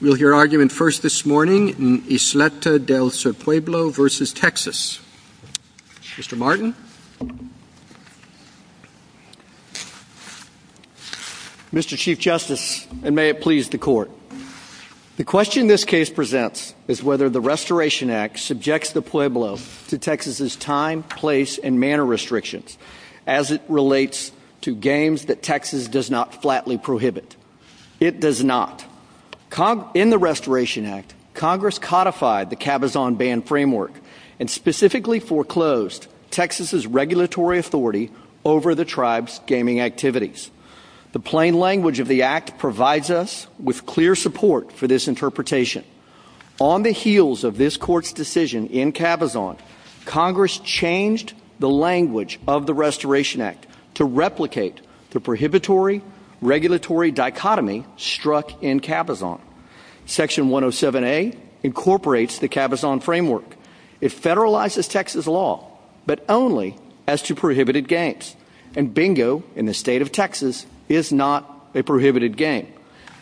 Mr. Martin. Mr. Chief Justice, and may it please the Court. The question this case presents is whether the Restoration Act subjects the Pueblo to Texas' time, place, and manner restrictions as it relates to games that Texas does not flatly prohibit. It does not. In the Restoration Act, Congress codified the Cabazon ban framework and specifically foreclosed Texas' regulatory authority over the tribe's gaming activities. The plain language of the Act provides us with clear support for this interpretation. On the heels of this Court's decision in Cabazon, Congress changed the language of the Restoration Act to replicate the prohibitory-regulatory dichotomy struck in Cabazon. Section 107A incorporates the Cabazon framework. It federalizes Texas' law, but only as to prohibited games. And bingo, in the state of Texas, is not a prohibited game.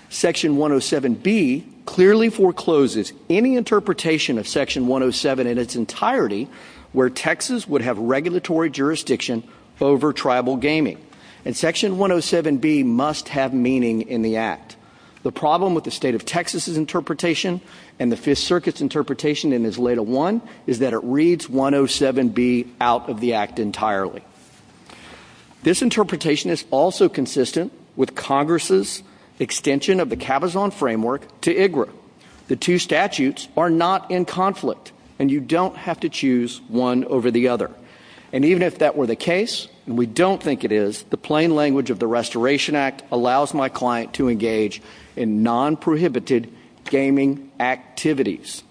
Section 107B clearly forecloses any interpretation of Section 107 in its entirety where Texas would have regulatory jurisdiction over tribal gaming. And Section 107B must have meaning in the Act. The problem with the state of Texas' interpretation and the Fifth Circuit's interpretation in Isleta I is that it reads 107B out of the Act entirely. This interpretation is also consistent with Congress' extension of the Cabazon framework to IGRA. The two statutes are not in conflict, and you don't have to choose one over the other. And even if that were the case, and we don't think it is, the plain language of the Restoration Act allows my client to engage in non-prohibited gaming activities.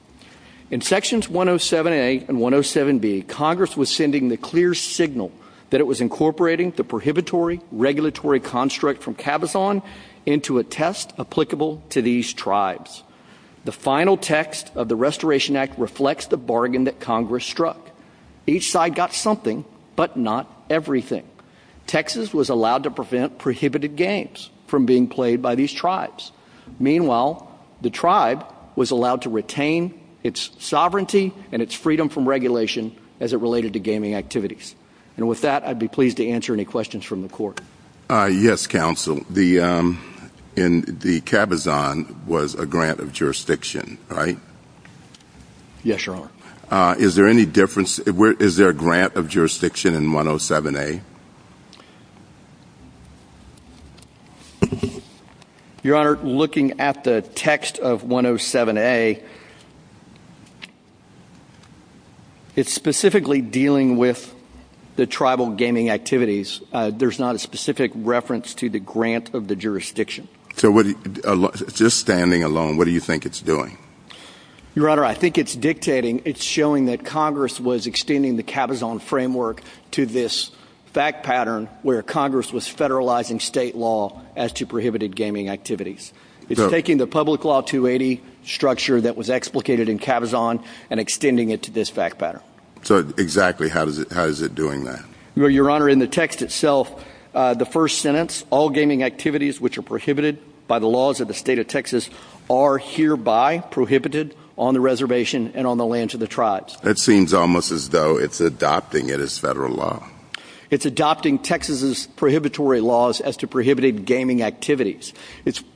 In Sections 107A and 107B, Congress was sending the clear signal that it was incorporating the prohibitory-regulatory construct from Cabazon into a test applicable to these tribes. The final text of the Restoration Act reflects the bargain that Congress struck. Each side got something, but not everything. Texas was allowed to prevent prohibited games from being played by these tribes. Meanwhile, the tribe was allowed to retain its sovereignty and its freedom from regulation as it related to gaming activities. And with that, I'd be pleased to answer any questions from the Court. Yes, Counsel. The Cabazon was a grant of jurisdiction, right? Yes, Your Honor. Is there any difference? Is there a grant of jurisdiction in 107A? Your Honor, looking at the text of 107A, it's specifically dealing with the tribal gaming activities. There's not a specific reference to the grant of the jurisdiction. So just standing alone, what do you think it's doing? Your Honor, I think it's dictating, it's showing that Congress was extending the Cabazon framework to this fact pattern where Congress was federalizing state law as to prohibited gaming activities. It's taking the public law 280 structure that was explicated in Cabazon and extending it to this fact pattern. So exactly how is it doing that? Your Honor, in the text itself, the first sentence, all gaming activities which are prohibited by the laws of the state of Texas are hereby prohibited on the reservation and on the lands of the tribes. That seems almost as though it's adopting it as federal law. It's adopting Texas's prohibitory laws as to prohibited gaming activities.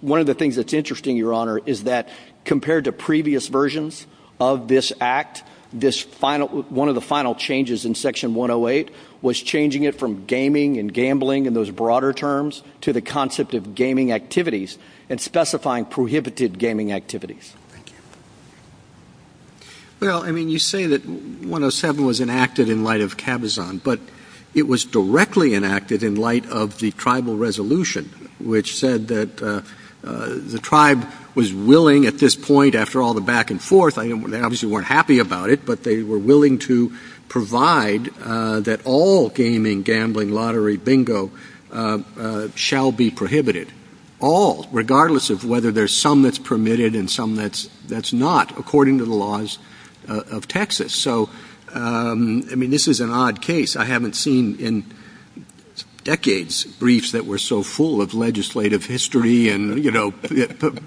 One of the things that's interesting, Your Honor, is that compared to previous versions of this act, one of the final changes in section 108 was changing it from gaming and gambling in those broader terms to the concept of gaming activities and specifying prohibited gaming activities. Well, I mean you say that 107 was enacted in light of Cabazon, but it was directly enacted in light of the tribal resolution which said that the tribe was willing at this point after all the back and forth, they obviously weren't happy about it, but they were willing to provide that all gaming, gambling, lottery, bingo shall be prohibited. All, regardless of whether there's some that's permitted and some that's not, according to the laws of Texas. So, I mean, this is an odd case. I haven't seen in decades briefs that were so full of legislative history and, you know,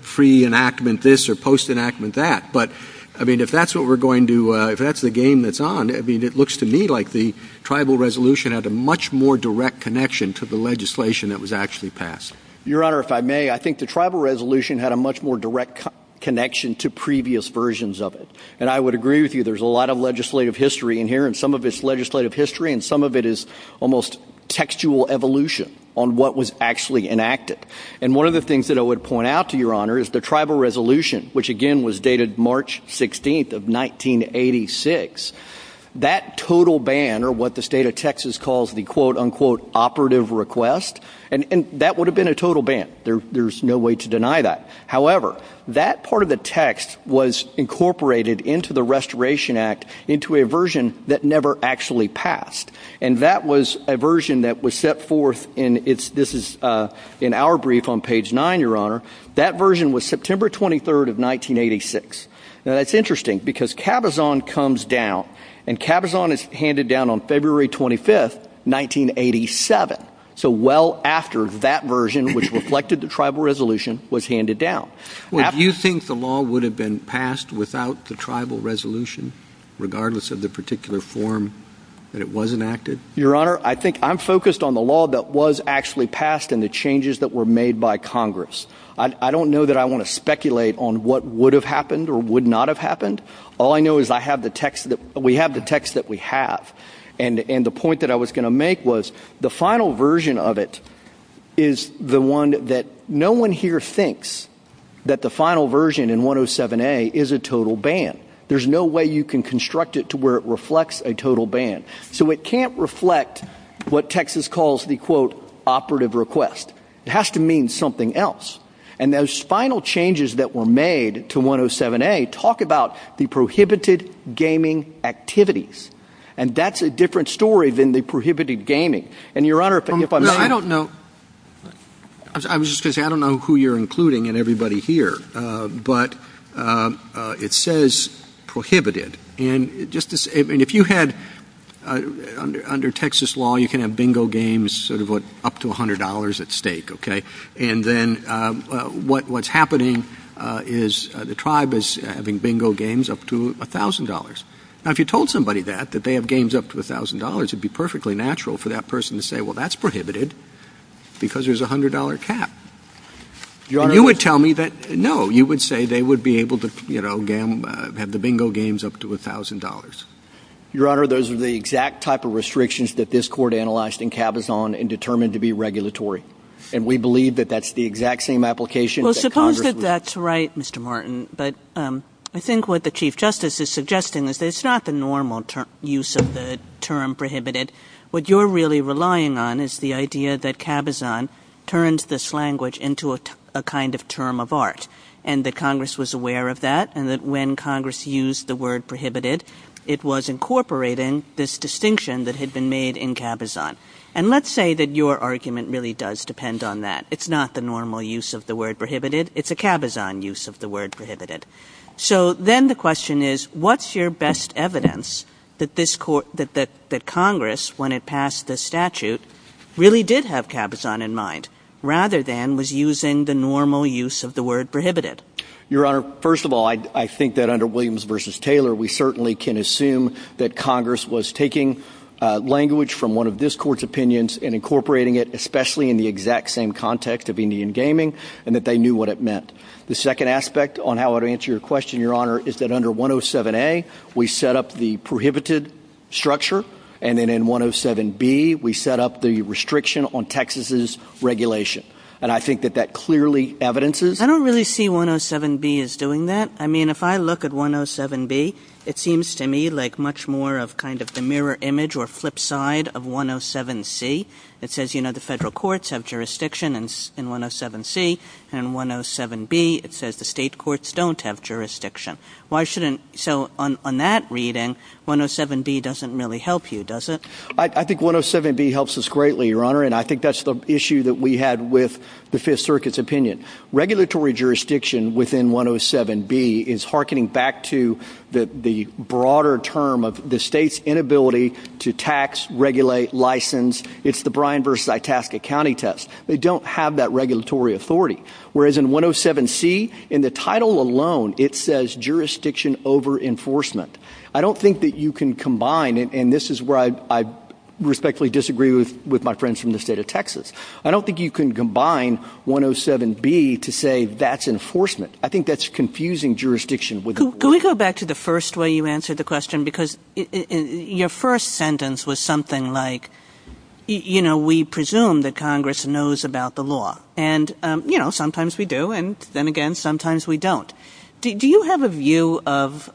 pre-enactment this or post-enactment that. But, I mean, if that's what we're going to, if that's the game that's on, I mean, it looks to me like the tribal resolution had a much more direct connection to the legislation that was actually passed. Your Honor, if I may, I think the tribal resolution had a much more direct connection to previous versions of it. And I would agree with you, there's a lot of legislative history in here and some of it's legislative history and some of it is almost textual evolution on what was actually enacted. And one of the things that I would point out to Your Honor is the tribal resolution, which again was dated March 16th of 1986. That total ban, or what the state of Texas calls the quote unquote operative request, and that would have been a total ban. There's no way to deny that. However, that part of the text was incorporated into the Restoration Act into a version that never actually passed. And that was a version that was set forth in our brief on page 9, Your Honor. That version was September 23rd of 1986. Now that's interesting because Cabazon comes down and Cabazon is handed down on February 25th, 1987. So well after that version, which reflected the tribal resolution, was handed down. Well do you think the law would have been passed without the tribal resolution, regardless of the particular form that it was enacted? Your Honor, I think I'm focused on the law that was actually passed and the changes that were made by Congress. I don't know that I want to speculate on what would have happened or would not have happened. All I know is we have the text that we have. And the point that I was going to make was the final version of it is the one that no one here thinks that the final version in 107A is a total ban. There's no way you can construct it to where it reflects a total ban. So it can't reflect what Texas calls the quote operative request. It has to mean something else. And those final changes that were made to 107A talk about the prohibited gaming activities. And that's a different story than the prohibited gaming. And Your Honor, if I'm not wrong... I don't know who you're including and everybody here, but it says prohibited. And if you had, under Texas law, you can have bingo games up to $100 at stake. And then what's happening is the tribe is having bingo games up to $1,000. Now, if you told somebody that, that they have games up to $1,000, it would be perfectly natural for that person to say, well, that's prohibited because there's a $100 cap. And you would tell me that, no, you would say they would be able to have the bingo games up to $1,000. Your Honor, those are the exact type of restrictions that this court analyzed in Cabazon and determined to be regulatory. And we believe that that's the exact same application that Congress would... I'm sorry, Mr. Martin, but I think what the Chief Justice is suggesting is that it's not the normal use of the term prohibited. What you're really relying on is the idea that Cabazon turned this language into a kind of term of art. And that Congress was aware of that and that when Congress used the word prohibited, it was incorporating this distinction that had been made in Cabazon. And let's say that your argument really does depend on that. It's not the normal use of the word prohibited. It's a Cabazon use of the word prohibited. So then the question is, what's your best evidence that Congress, when it passed the statute, really did have Cabazon in mind rather than was using the normal use of the word prohibited? Your Honor, first of all, I think that under Williams v. Taylor, we certainly can assume that Congress was taking language from one of this court's opinions and incorporating it, especially in the exact same context of Indian gaming, and that they knew what it meant. The second aspect on how I would answer your question, Your Honor, is that under 107A, we set up the prohibited structure. And then in 107B, we set up the restriction on Texas's regulation. And I think that that clearly evidences... I don't really see 107B as doing that. I mean, if I look at 107B, it seems to me like much more of kind of the mirror image or flip side of 107C. It says, you know, the federal courts have jurisdiction in 107C. And in 107B, it says the state courts don't have jurisdiction. So on that reading, 107B doesn't really help you, does it? I think 107B helps us greatly, Your Honor, and I think that's the issue that we had with the Fifth Circuit's opinion. Regulatory jurisdiction within 107B is hearkening back to the broader term of the state's inability to tax, regulate, license. It's the Bryan v. Itasca County test. They don't have that regulatory authority. Whereas in 107C, in the title alone, it says jurisdiction over enforcement. I don't think that you can combine, and this is where I respectfully disagree with my friends from the state of Texas. I don't think you can combine 107B to say that's enforcement. I think that's confusing jurisdiction. Can we go back to the first way you answered the question? Because your first sentence was something like, you know, we presume that Congress knows about the law. And, you know, sometimes we do, and then again, sometimes we don't. Do you have a view of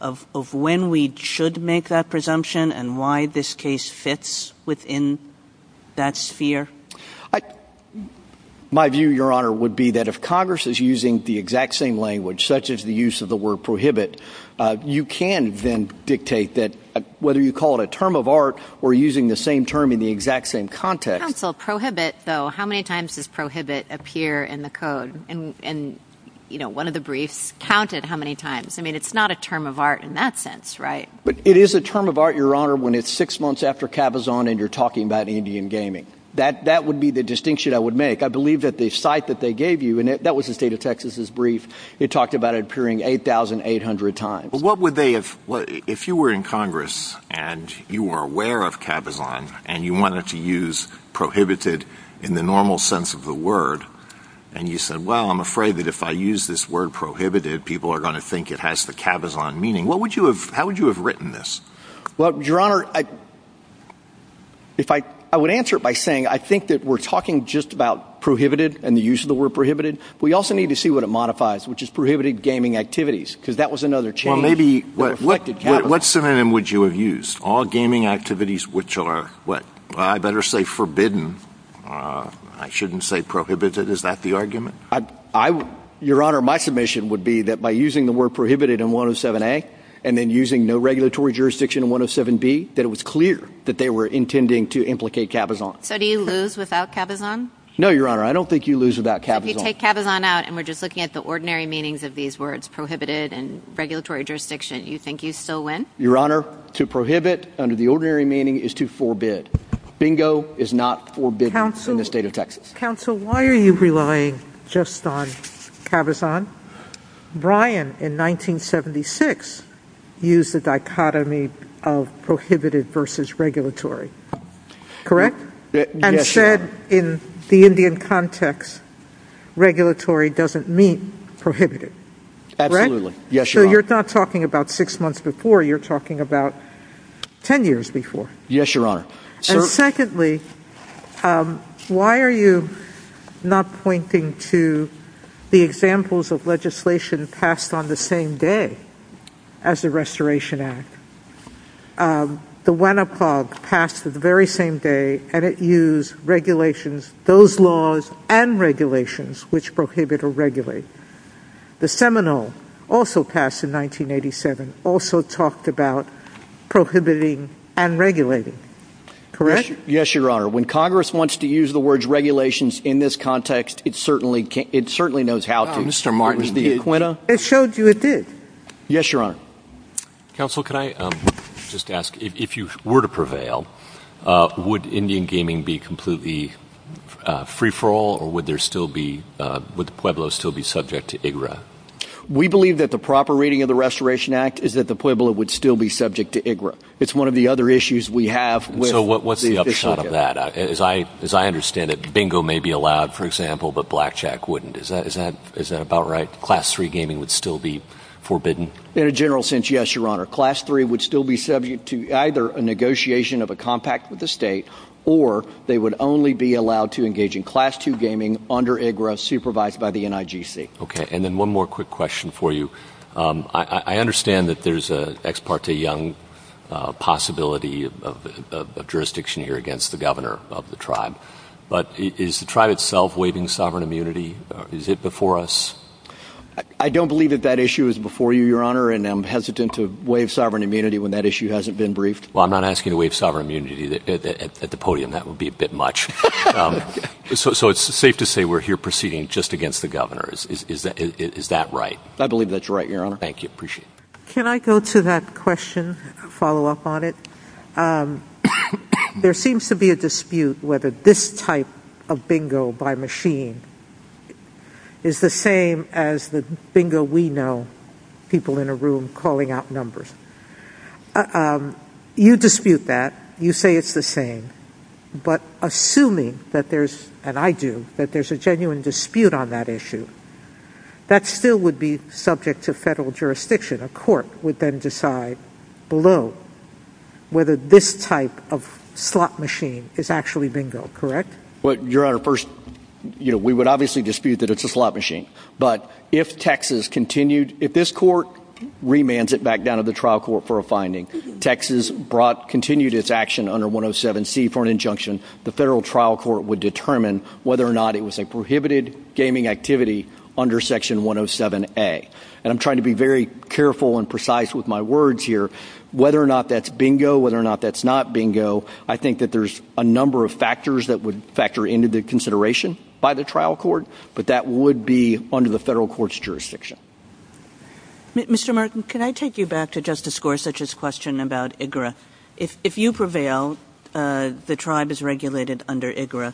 when we should make that presumption and why this case fits within that sphere? My view, Your Honor, would be that if Congress is using the exact same language, such as the use of the word prohibit, you can then dictate that whether you call it a term of art or using the same term in the exact same context. Counsel, prohibit, though, how many times does prohibit appear in the code? And, you know, one of the briefs counted how many times. I mean, it's not a term of art in that sense, right? It is a term of art, Your Honor, when it's six months after Kavazan and you're talking about Indian gaming. That would be the distinction I would make. I believe that the cite that they gave you, and that was the State of Texas' brief, it talked about it appearing 8,800 times. But what would they have – if you were in Congress and you were aware of Kavazan and you wanted to use prohibited in the normal sense of the word, and you said, well, I'm afraid that if I use this word prohibited, people are going to think it has the Kavazan meaning, what would you have – how would you have written this? Well, Your Honor, if I – I would answer it by saying I think that we're talking just about prohibited and the use of the word prohibited. We also need to see what it modifies, which is prohibited gaming activities, because that was another change. Well, maybe – what synonym would you have used? All gaming activities which are, what, I better say forbidden. I shouldn't say prohibited. Is that the argument? Your Honor, my submission would be that by using the word prohibited in 107A and then using no regulatory jurisdiction in 107B, that it was clear that they were intending to implicate Kavazan. So do you lose without Kavazan? No, Your Honor, I don't think you lose without Kavazan. If you take Kavazan out and we're just looking at the ordinary meanings of these words, prohibited and regulatory jurisdiction, you think you still win? Your Honor, to prohibit under the ordinary meaning is to forbid. Bingo is not forbidding in the State of Texas. Counsel, why are you relying just on Kavazan? Bryan, in 1976, used the dichotomy of prohibited versus regulatory. Correct? Yes, Your Honor. And said in the Indian context, regulatory doesn't mean prohibited. Correct? Absolutely. Yes, Your Honor. So you're not talking about six months before. You're talking about 10 years before. Yes, Your Honor. And secondly, why are you not pointing to the examples of legislation passed on the same day as the Restoration Act? The WANAPOG passed on the very same day and it used regulations, those laws and regulations, which prohibit or regulate. The Seminole, also passed in 1987, also talked about prohibiting and regulating. Correct? Yes, Your Honor. When Congress wants to use the words regulations in this context, it certainly knows how to. Mr. Martin, it showed you it did. Yes, Your Honor. Counsel, could I just ask, if you were to prevail, would Indian gaming be completely free-for-all or would the Pueblo still be subject to IGRA? We believe that the proper reading of the Restoration Act is that the Pueblo would still be subject to IGRA. It's one of the other issues we have. So what's the upshot of that? As I understand it, bingo may be allowed, for example, but blackjack wouldn't. Is that about right? Class 3 gaming would still be forbidden? In a general sense, yes, Your Honor. Class 3 would still be subject to either a negotiation of a compact with the state, or they would only be allowed to engage in Class 2 gaming under IGRA, supervised by the NIGC. Okay, and then one more quick question for you. I understand that there's an ex parte young possibility of jurisdiction here against the governor of the tribe, but is the tribe itself waiving sovereign immunity? Is it before us? I don't believe that that issue is before you, Your Honor, and I'm hesitant to waive sovereign immunity when that issue hasn't been briefed. Well, I'm not asking to waive sovereign immunity at the podium. That would be a bit much. So it's safe to say we're here proceeding just against the governor. Is that right? I believe that's right, Your Honor. Thank you. I appreciate it. Can I go to that question, follow up on it? There seems to be a dispute whether this type of bingo by machine is the same as the bingo we know, people in a room calling out numbers. You dispute that. You say it's the same. But assuming that there's, and I do, that there's a genuine dispute on that issue, that still would be subject to federal jurisdiction. A court would then decide below whether this type of slot machine is actually bingo, correct? Well, Your Honor, first, you know, we would obviously dispute that it's a slot machine. But if Texas continued, if this court remands it back down to the trial court for a finding, Texas brought, continued its action under 107C for an injunction, the federal trial court would determine whether or not it was a prohibited gaming activity under section 107A. And I'm trying to be very careful and precise with my words here. Whether or not that's bingo, whether or not that's not bingo, I think that there's a number of factors that would factor into the consideration by the trial court, but that would be under the federal court's jurisdiction. Mr. Martin, can I take you back to Justice Gorsuch's question about IGRA? If you prevail, the tribe is regulated under IGRA.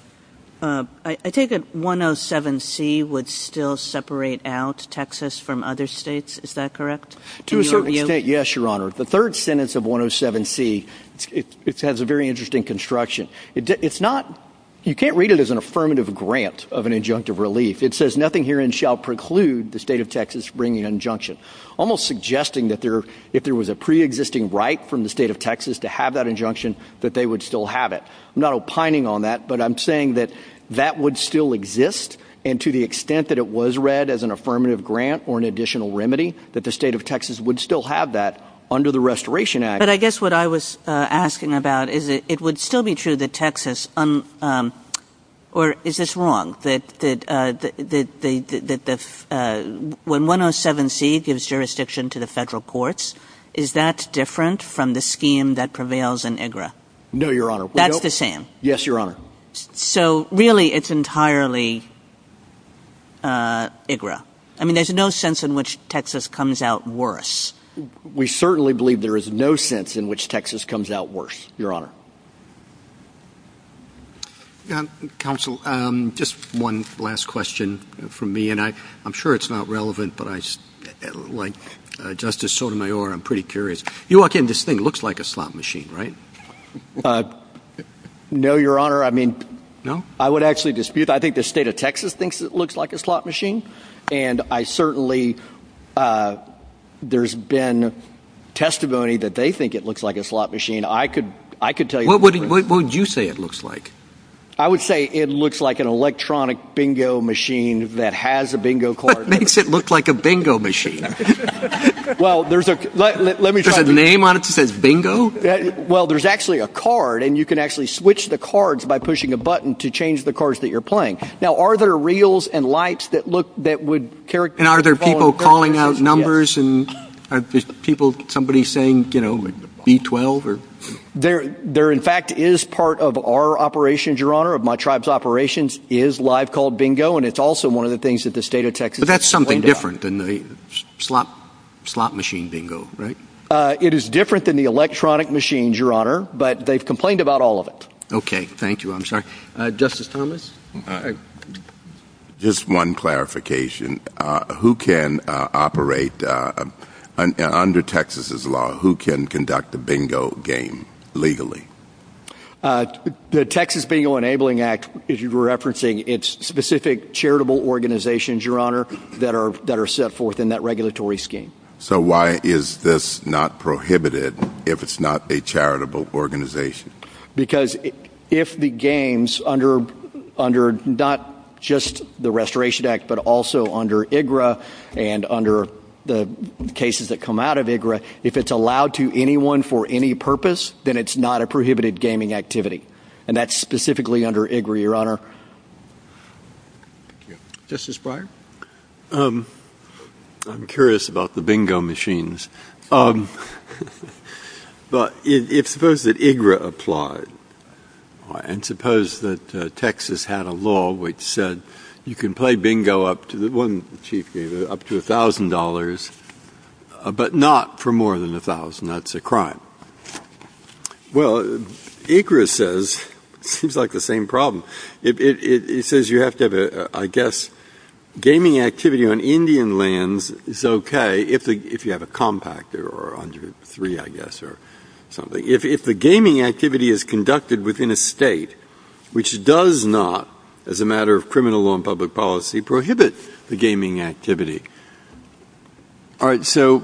I take it 107C would still separate out Texas from other states, is that correct? To a certain extent, yes, Your Honor. The third sentence of 107C, it has a very interesting construction. It's not – you can't read it as an affirmative grant of an injunctive relief. It says nothing herein shall preclude the state of Texas from bringing an injunction, almost suggesting that if there was a preexisting right from the state of Texas to have that injunction, that they would still have it. I'm not opining on that, but I'm saying that that would still exist, and to the extent that it was read as an affirmative grant or an additional remedy, that the state of Texas would still have that under the Restoration Act. But I guess what I was asking about is that it would still be true that Texas – or is this wrong, that when 107C gives jurisdiction to the federal courts, is that different from the scheme that prevails in IGRA? No, Your Honor. That's the same? Yes, Your Honor. So really it's entirely IGRA. I mean, there's no sense in which Texas comes out worse. We certainly believe there is no sense in which Texas comes out worse, Your Honor. Counsel, just one last question from me, and I'm sure it's not relevant, but like Justice Sotomayor, I'm pretty curious. You all think this thing looks like a slot machine, right? No, Your Honor. I mean, I would actually dispute that. I think the state of Texas thinks it looks like a slot machine, and I certainly – there's been testimony that they think it looks like a slot machine. What would you say it looks like? I would say it looks like an electronic bingo machine that has a bingo card. What makes it look like a bingo machine? Well, there's a – Does it have a name on it that says bingo? Well, there's actually a card, and you can actually switch the cards by pushing a button to change the cards that you're playing. Now, are there reels and lights that would – And are there people calling out numbers and people – somebody saying, you know, B-12? There, in fact, is part of our operations, Your Honor, of my tribe's operations, is live-called bingo, and it's also one of the things that the state of Texas has complained about. But that's something different than the slot machine bingo, right? It is different than the electronic machines, Your Honor, but they've complained about all of it. Okay. Thank you. I'm sorry. Justice Thomas? Just one clarification. Who can operate – under Texas's law, who can conduct a bingo game legally? The Texas Bingo Enabling Act is referencing its specific charitable organizations, Your Honor, that are set forth in that regulatory scheme. So why is this not prohibited if it's not a charitable organization? Because if the games under – not just the Restoration Act, but also under IGRA and under the cases that come out of IGRA, if it's allowed to anyone for any purpose, then it's not a prohibited gaming activity. And that's specifically under IGRA, Your Honor. Justice Breyer? I'm curious about the bingo machines. But suppose that IGRA applied, and suppose that Texas had a law which said you can play bingo up to – one chief game, up to $1,000, but not for more than $1,000. That's a crime. Well, IGRA says it's like the same problem. It says you have to have a – I guess gaming activity on Indian lands is okay if you have a compact or under three, I guess, or something. If the gaming activity is conducted within a state which does not, as a matter of criminal law and public policy, prohibit the gaming activity. All right, so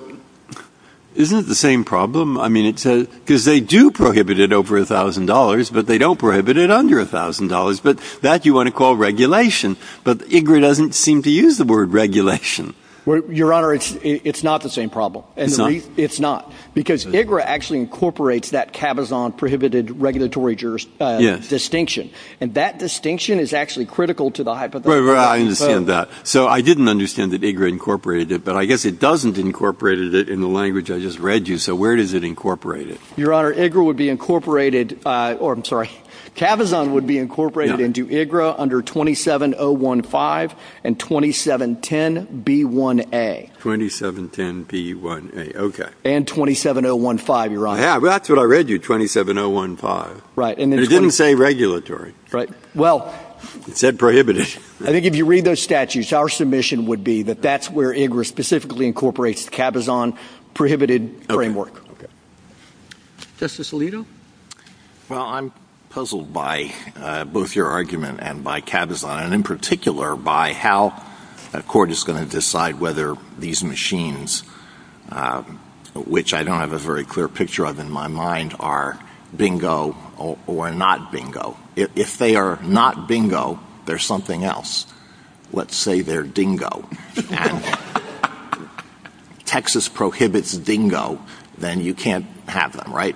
isn't it the same problem? I mean, it says – because they do prohibit it over $1,000, but they don't prohibit it under $1,000. But that you want to call regulation. But IGRA doesn't seem to use the word regulation. Your Honor, it's not the same problem. It's not? It's not. Because IGRA actually incorporates that cabazon-prohibited regulatory distinction. And that distinction is actually critical to the hypothetical. I understand that. So I didn't understand that IGRA incorporated it, but I guess it doesn't incorporate it in the language I just read you. So where does it incorporate it? Your Honor, IGRA would be incorporated – or I'm sorry. Cabazon would be incorporated into IGRA under 27015 and 2710B1A. 2710B1A, okay. And 27015, Your Honor. Yeah, that's what I read you, 27015. Right. It didn't say regulatory. Right. Well – It said prohibited. I think if you read those statutes, our submission would be that that's where IGRA specifically incorporates cabazon-prohibited framework. Justice Alito? Well, I'm puzzled by both your argument and by cabazon, and in particular by how a court is going to decide whether these machines, which I don't have a very clear picture of in my mind, are bingo or not bingo. If they are not bingo, they're something else. Let's say they're dingo. Texas prohibits dingo, then you can't have them, right?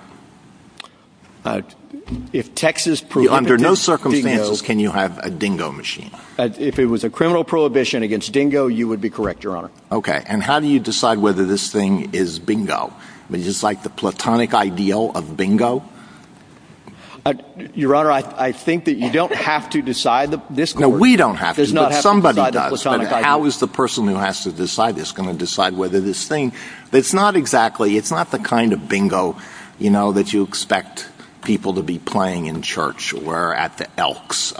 If Texas prohibits dingo – Under no circumstances can you have a dingo machine. If it was a criminal prohibition against dingo, you would be correct, Your Honor. Okay. And how do you decide whether this thing is bingo? Would you decide the platonic ideal of bingo? Your Honor, I think that you don't have to decide. No, we don't have to, but somebody does. How is the person who has to decide this going to decide whether this thing – It's not exactly – It's not the kind of bingo, you know, that you expect people to be playing in church or at the Elks.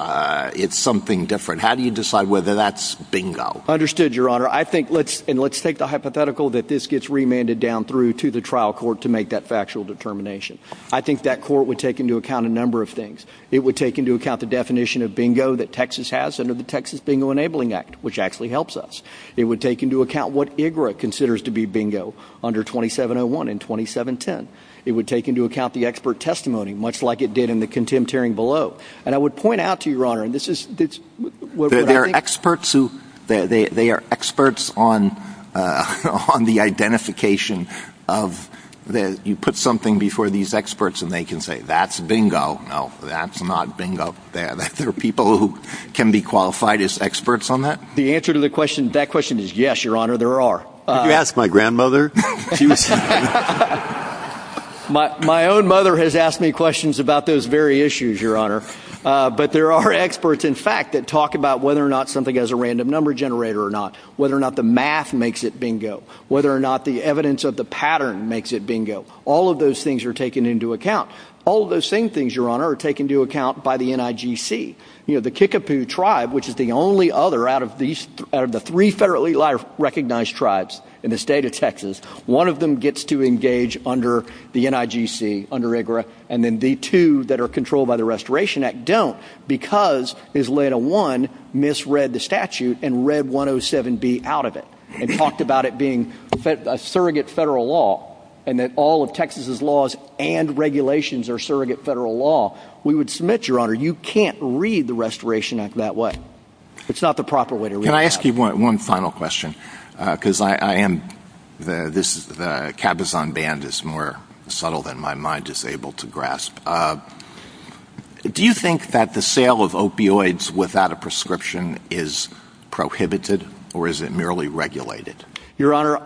It's something different. How do you decide whether that's bingo? Understood, Your Honor. I think – And let's take the hypothetical that this gets remanded down through to the trial court to make that factual determination. I think that court would take into account a number of things. It would take into account the definition of bingo that Texas has under the Texas Bingo Enabling Act, which actually helps us. It would take into account what IGRA considers to be bingo under 2701 and 2710. It would take into account the expert testimony, much like it did in the contempt hearing below. And I would point out to you, Your Honor, and this is – There are experts who – they are experts on the identification of – you put something before these experts and they can say, that's bingo. No, that's not bingo. There are people who can be qualified as experts on that. The answer to that question is yes, Your Honor, there are. Did you ask my grandmother? My own mother has asked me questions about those very issues, Your Honor. But there are experts, in fact, that talk about whether or not something has a random number generator or not, whether or not the math makes it bingo, whether or not the evidence of the pattern makes it bingo. All of those things are taken into account. All of those same things, Your Honor, are taken into account by the NIGC. The Kickapoo tribe, which is the only other out of the three federally recognized tribes in the state of Texas, one of them gets to engage under the NIGC, under IGRA, and then the two that are controlled by the Restoration Act don't because Ms. Lena One misread the statute and read 107B out of it. And talked about it being a surrogate federal law and that all of Texas' laws and regulations are surrogate federal law. We would submit, Your Honor, you can't read the Restoration Act that way. It's not the proper way to read it. Can I ask you one final question? Because I am – the cabazon ban is more subtle than my mind is able to grasp. Do you think that the sale of opioids without a prescription is prohibited or is it merely regulated? Your Honor,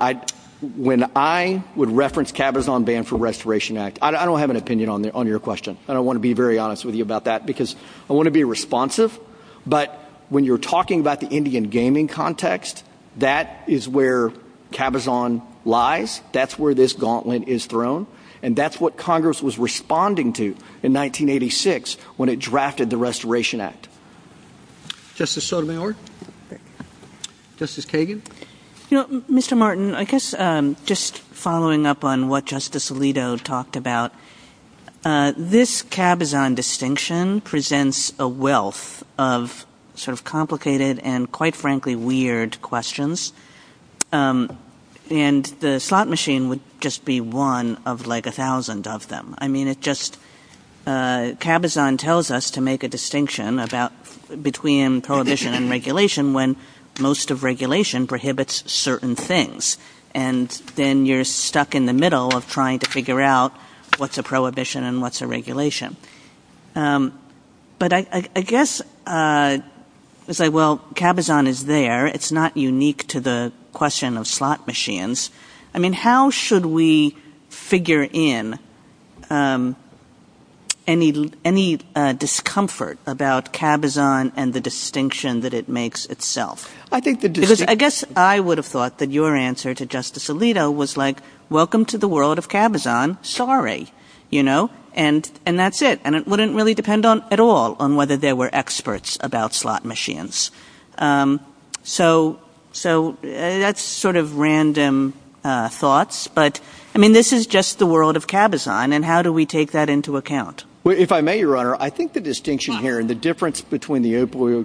when I would reference cabazon ban for the Restoration Act, I don't have an opinion on your question. I don't want to be very honest with you about that because I want to be responsive. But when you're talking about the Indian gaming context, that is where cabazon lies. That's where this gauntlet is thrown. And that's what Congress was responding to in 1986 when it drafted the Restoration Act. Justice Sotomayor? Justice Kagan? Mr. Martin, I guess just following up on what Justice Alito talked about, this cabazon distinction presents a wealth of sort of complicated and quite frankly weird questions. And the slot machine would just be one of like a thousand of them. I mean cabazon tells us to make a distinction between prohibition and regulation when most of regulation prohibits certain things. And then you're stuck in the middle of trying to figure out what's a prohibition and what's a regulation. But I guess cabazon is there. It's not unique to the question of slot machines. I mean how should we figure in any discomfort about cabazon and the distinction that it makes itself? I guess I would have thought that your answer to Justice Alito was like, welcome to the world of cabazon. Sorry. And that's it. And it wouldn't really depend at all on whether there were experts about slot machines. So that's sort of random thoughts. But I mean this is just the world of cabazon. And how do we take that into account? If I may, Your Honor, I think the distinction here and the difference between the opioid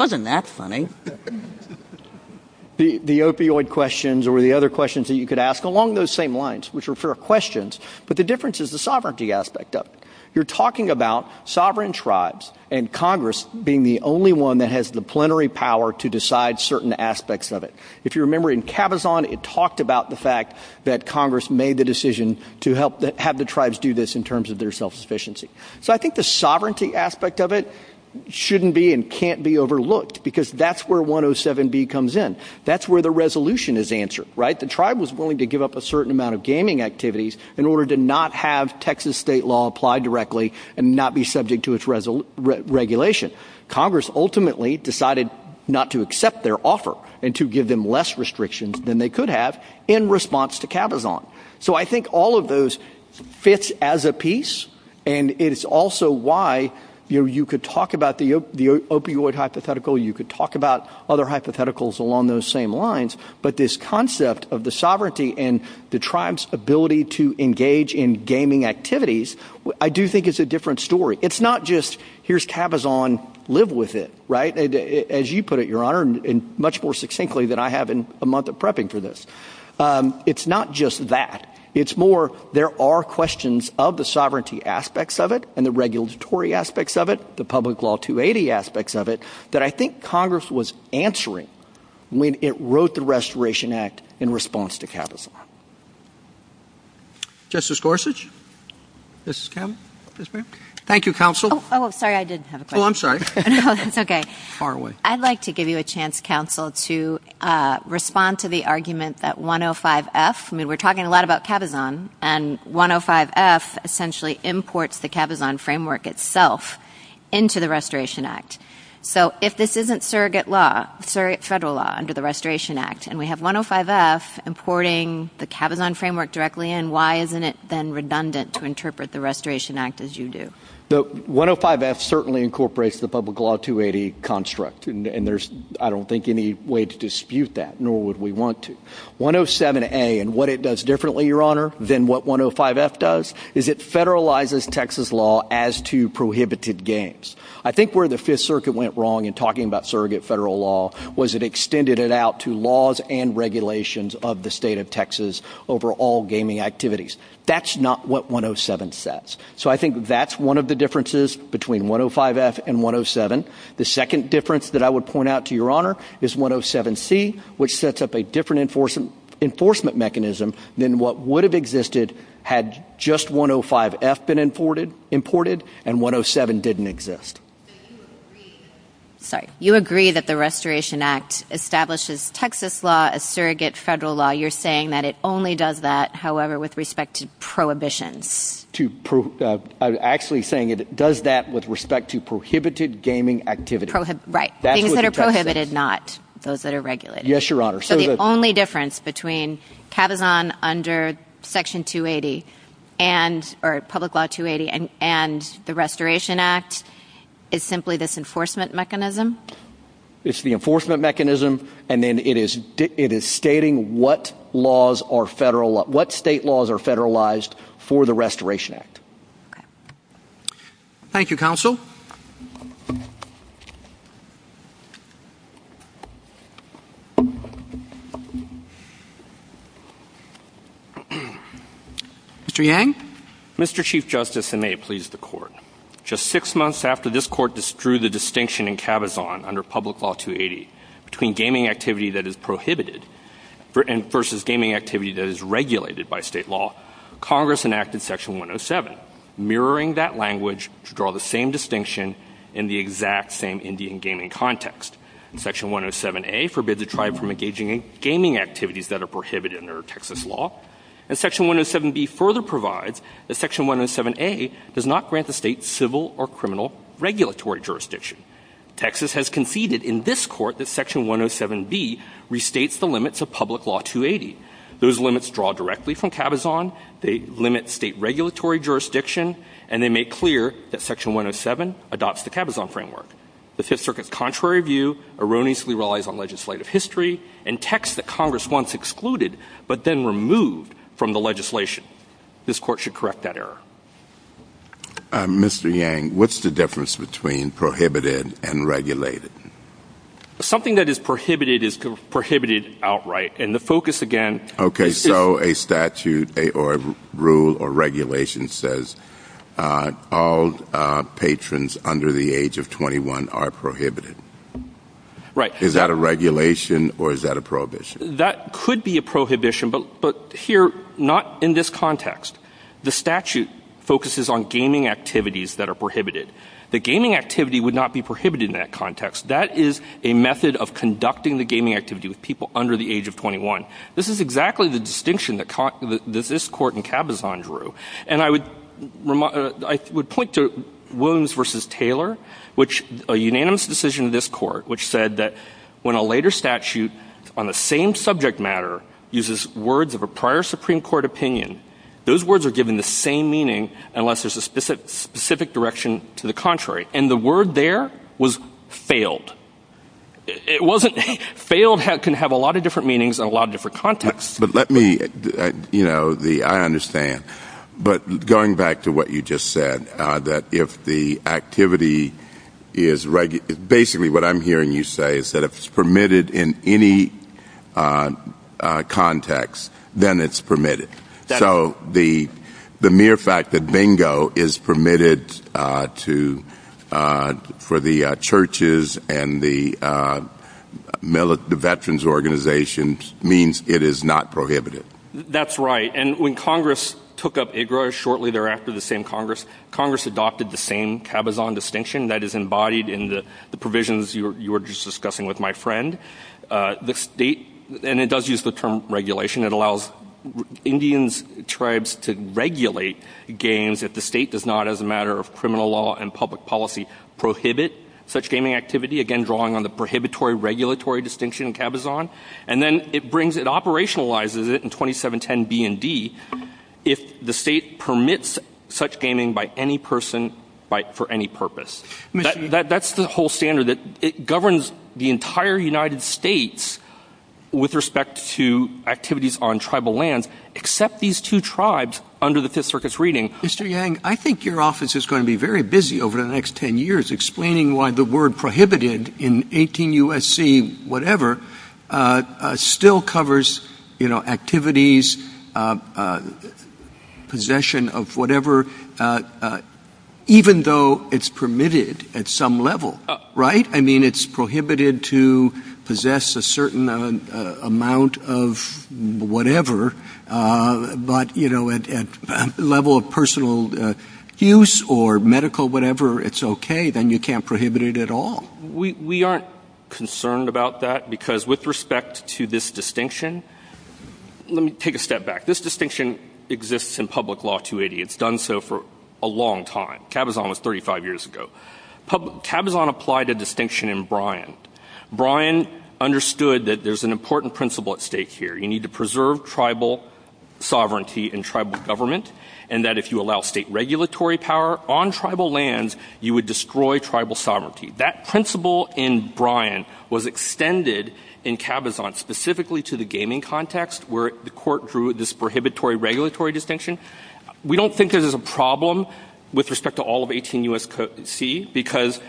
questions or the other questions that you could ask along those same lines, which are fair questions, but the difference is the sovereignty aspect of it. You're talking about sovereign tribes and Congress being the only one that has the plenary power to decide certain aspects of it. If you remember in cabazon, it talked about the fact that Congress made the decision to have the tribes do this in terms of their self-sufficiency. So I think the sovereignty aspect of it shouldn't be and can't be overlooked because that's where 107B comes in. That's where the resolution is answered. The tribe was willing to give up a certain amount of gaming activities in order to not have Texas state law apply directly and not be subject to its regulation. Congress ultimately decided not to accept their offer and to give them less restrictions than they could have in response to cabazon. So I think all of those fit as a piece. And it's also why you could talk about the opioid hypothetical. You could talk about other hypotheticals along those same lines. But this concept of the sovereignty and the tribe's ability to engage in gaming activities, I do think it's a different story. It's not just here's cabazon, live with it. Right. As you put it, Your Honor, and much more succinctly than I have in a month of prepping for this. It's not just that. It's more there are questions of the sovereignty aspects of it and the regulatory aspects of it, the public law 280 aspects of it that I think Congress was answering when it wrote the Restoration Act in response to cabazon. Justice Gorsuch? Thank you, Counsel. Oh, I'm sorry. I didn't have a question. Oh, I'm sorry. No, that's okay. Far away. I'd like to give you a chance, Counsel, to respond to the argument that 105F, I mean, we're talking a lot about cabazon, and 105F essentially imports the cabazon framework itself into the Restoration Act. So if this isn't surrogate law, federal law under the Restoration Act, and we have 105F importing the cabazon framework directly in, why isn't it then redundant to interpret the Restoration Act as you do? 105F certainly incorporates the public law 280 construct, and there's, I don't think, any way to dispute that, nor would we want to. 107A and what it does differently, Your Honor, than what 105F does is it federalizes Texas law as to prohibited games. I think where the Fifth Circuit went wrong in talking about surrogate federal law was it extended it out to laws and regulations of the state of Texas over all gaming activities. That's not what 107 says. So I think that's one of the differences between 105F and 107. The second difference that I would point out to Your Honor is 107C, which sets up a different enforcement mechanism than what would have existed had just 105F been imported and 107 didn't exist. You agree that the Restoration Act establishes Texas law as surrogate federal law. You're saying that it only does that, however, with respect to prohibitions. I'm actually saying it does that with respect to prohibited gaming activities. Right. Things that are prohibited, not those that are regulated. Yes, Your Honor. So the only difference between CAVIZON under Section 280, or Public Law 280, and the Restoration Act is simply this enforcement mechanism? It's the enforcement mechanism, and then it is stating what state laws are federalized for the Restoration Act. Thank you, Counsel. Mr. Yang? Mr. Chief Justice, and may it please the Court, just six months after this Court drew the distinction in CAVIZON under Public Law 280 between gaming activity that is prohibited versus gaming activity that is regulated by state law, Congress enacted Section 107, mirroring that language to draw the same distinction in the exact same Indian gaming context. Section 107A forbids a tribe from engaging in gaming activities that are prohibited under Texas law. And Section 107B further provides that Section 107A does not grant the state civil or criminal regulatory jurisdiction. Texas has conceded in this Court that Section 107B restates the limits of Public Law 280. Those limits draw directly from CAVIZON, they limit state regulatory jurisdiction, and they make clear that Section 107 adopts the CAVIZON framework. The Fifth Circuit's contrary view erroneously relies on legislative history and text that Congress once excluded but then removed from the legislation. This Court should correct that error. Mr. Yang, what's the difference between prohibited and regulated? Something that is prohibited is prohibited outright, and the focus, again— Okay, so a statute or a rule or regulation says all patrons under the age of 21 are prohibited. Right. Is that a regulation or is that a prohibition? That could be a prohibition, but here, not in this context. The statute focuses on gaming activities that are prohibited. The gaming activity would not be prohibited in that context. That is a method of conducting the gaming activity with people under the age of 21. This is exactly the distinction that this Court in CAVIZON drew. And I would point to Williams v. Taylor, which is a unanimous decision of this Court, which said that when a later statute on the same subject matter uses words of a prior Supreme Court opinion, those words are given the same meaning unless there's a specific direction to the contrary. And the word there was failed. Failed can have a lot of different meanings in a lot of different contexts. But let me—I understand. But going back to what you just said, that if the activity is— basically what I'm hearing you say is that if it's permitted in any context, then it's permitted. So the mere fact that bingo is permitted for the churches and the veterans' organizations means it is not prohibited. That's right. And when Congress took up IGRA shortly thereafter, the same Congress adopted the same CAVIZON distinction that is embodied in the provisions you were just discussing with my friend. And it does use the term regulation. It allows Indian tribes to regulate games if the state does not, as a matter of criminal law and public policy, prohibit such gaming activity, again drawing on the prohibitory-regulatory distinction in CAVIZON. And then it operationalizes it in 2710 BND if the state permits such gaming by any person for any purpose. That's the whole standard. It governs the entire United States with respect to activities on tribal lands, except these two tribes under the Fifth Circuit's reading. Mr. Yang, I think your office is going to be very busy over the next 10 years explaining why the word prohibited in 18 U.S.C. whatever still covers activities, possession of whatever, even though it's permitted at some level, right? I mean, it's prohibited to possess a certain amount of whatever, but at a level of personal use or medical whatever, it's okay. Then you can't prohibit it at all. We aren't concerned about that because with respect to this distinction, let me take a step back. This distinction exists in public law 280. It's done so for a long time. CAVIZON was 35 years ago. CAVIZON applied a distinction in Bryan. Bryan understood that there's an important principle at stake here. You need to preserve tribal sovereignty and tribal government, and that if you allow state regulatory power on tribal lands, you would destroy tribal sovereignty. That principle in Bryan was extended in CAVIZON specifically to the gaming context where the court drew this prohibitory-regulatory distinction. We don't think there's a problem with respect to all of 18 U.S.C. because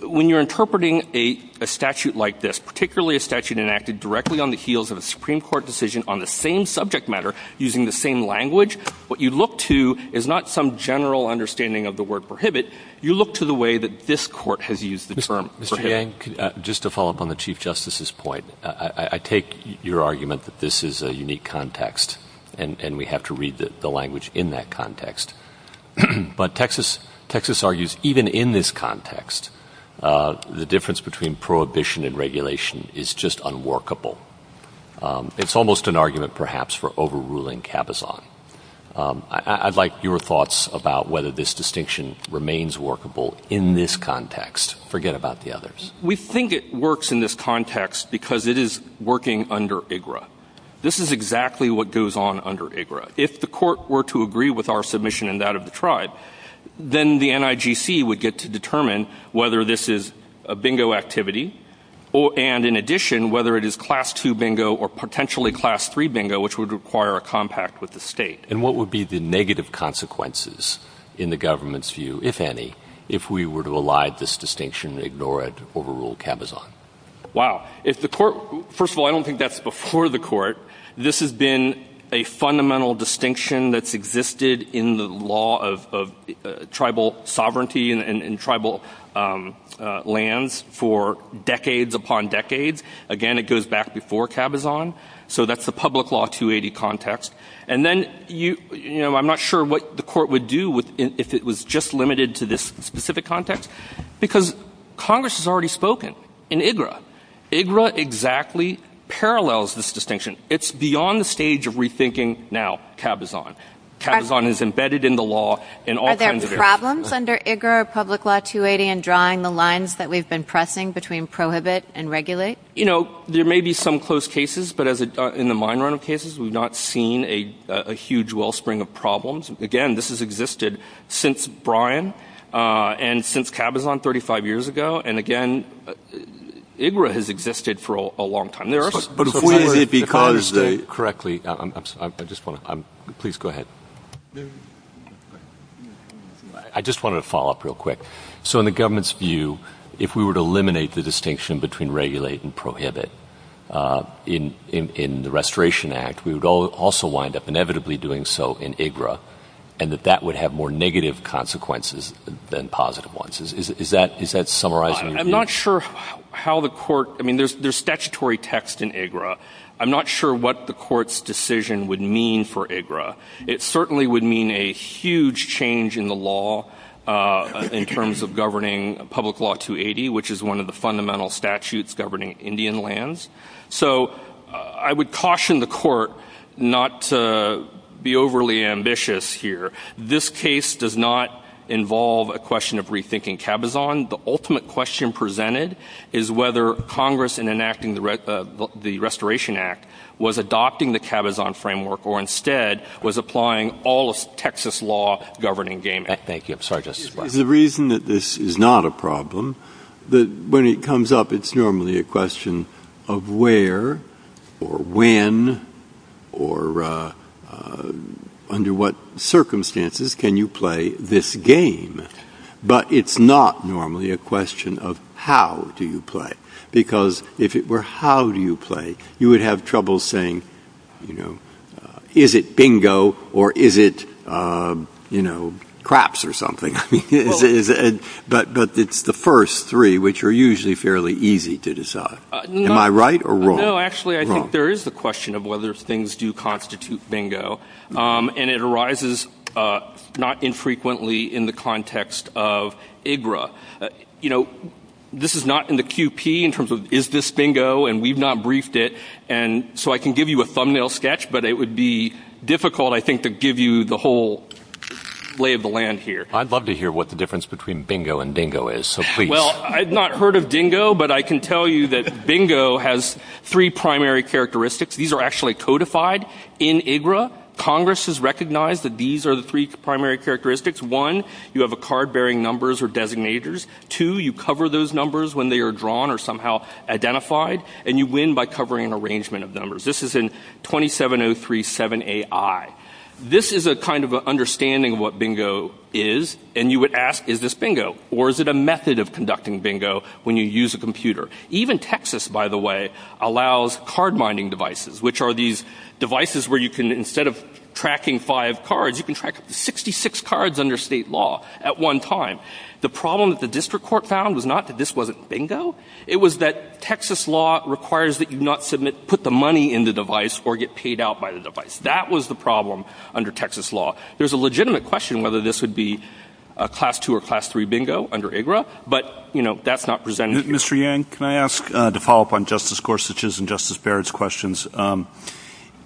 when you're interpreting a statute like this, particularly a statute enacted directly on the heels of a Supreme Court decision on the same subject matter using the same language, what you look to is not some general understanding of the word prohibit. You look to the way that this court has used the term. Mr. Hayes? Just to follow up on the Chief Justice's point, I take your argument that this is a unique context, and we have to read the language in that context. But Texas argues even in this context, the difference between prohibition and regulation is just unworkable. It's almost an argument perhaps for overruling CAVIZON. I'd like your thoughts about whether this distinction remains workable in this context. Forget about the others. We think it works in this context because it is working under IGRA. This is exactly what goes on under IGRA. If the court were to agree with our submission and that of the tribe, then the NIGC would get to determine whether this is a bingo activity, and in addition, whether it is class 2 bingo or potentially class 3 bingo, which would require a compact with the state. And what would be the negative consequences in the government's view, if any, if we were to allow this distinction, ignore it, overrule CAVIZON? Wow. First of all, I don't think that's before the court. This has been a fundamental distinction that's existed in the law of tribal sovereignty and tribal lands for decades upon decades. Again, it goes back before CAVIZON. So that's the public law 280 context. I'm not sure what the court would do if it was just limited to this specific context because Congress has already spoken in IGRA. IGRA exactly parallels this distinction. It's beyond the stage of rethinking now CAVIZON. CAVIZON is embedded in the law in all kinds of areas. Are there problems under IGRA or public law 280 in drawing the lines that we've been pressing between prohibit and regulate? You know, there may be some close cases, but in the minority of cases we've not seen a huge wellspring of problems. Again, this has existed since Bryan and since CAVIZON 35 years ago. And again, IGRA has existed for a long time. But if we were to— Correctly, I just want to—please go ahead. I just wanted to follow up real quick. So in the government's view, if we were to eliminate the distinction between regulate and prohibit in the Restoration Act, we would also wind up inevitably doing so in IGRA and that that would have more negative consequences than positive ones. Is that summarizing your view? I'm not sure how the court—I mean, there's statutory text in IGRA. I'm not sure what the court's decision would mean for IGRA. It certainly would mean a huge change in the law in terms of governing public law 280, which is one of the fundamental statutes governing Indian lands. So I would caution the court not to be overly ambitious here. This case does not involve a question of rethinking CAVIZON. The ultimate question presented is whether Congress in enacting the Restoration Act was adopting the CAVIZON framework or instead was applying all of Texas law governing Game Act. Thank you. I'm sorry, Justice Breyer. The reason that this is not a problem, when it comes up, it's normally a question of where or when or under what circumstances can you play this game. But it's not normally a question of how do you play it, because if it were how do you play it, you would have trouble saying, you know, is it bingo or is it, you know, craps or something. But it's the first three, which are usually fairly easy to decide. Am I right or wrong? No, actually, I think there is the question of whether things do constitute bingo, and it arises not infrequently in the context of IGRA. You know, this is not in the QP in terms of is this bingo, and we've not briefed it. And so I can give you a thumbnail sketch, but it would be difficult, I think, to give you the whole lay of the land here. I'd love to hear what the difference between bingo and dingo is. Well, I've not heard of dingo, but I can tell you that bingo has three primary characteristics. These are actually codified in IGRA. Congress has recognized that these are the three primary characteristics. One, you have a card bearing numbers or designators. Two, you cover those numbers when they are drawn or somehow identified, and you win by covering an arrangement of numbers. This is in 27037AI. This is a kind of an understanding of what bingo is, and you would ask, is this bingo? Or is it a method of conducting bingo when you use a computer? Even Texas, by the way, allows card mining devices, which are these devices where you can, instead of tracking five cards, you can track 66 cards under state law at one time. The problem that the district court found was not that this wasn't bingo. It was that Texas law requires that you not submit, put the money in the device, or get paid out by the device. That was the problem under Texas law. There's a legitimate question whether this would be a Class II or Class III bingo under IGRA, but, you know, that's not presented here. Mr. Yang, can I ask, to follow up on Justice Gorsuch's and Justice Barrett's questions,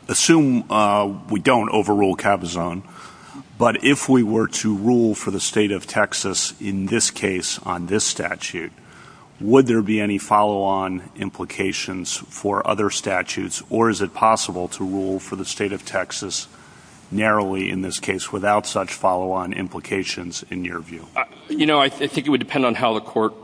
assume we don't overrule Kavazan, but if we were to rule for the state of Texas in this case on this statute, would there be any follow-on implications for other statutes, or is it possible to rule for the state of Texas narrowly in this case without such follow-on implications in your view? You know, I think it would depend on how the court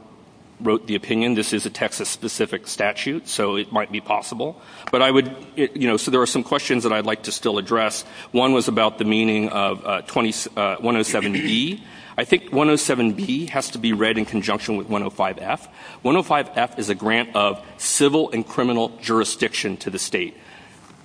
wrote the opinion. This is a Texas-specific statute, so it might be possible. But I would, you know, so there are some questions that I'd like to still address. One was about the meaning of 107B. I think 107B has to be read in conjunction with 105F. 105F is a grant of civil and criminal jurisdiction to the state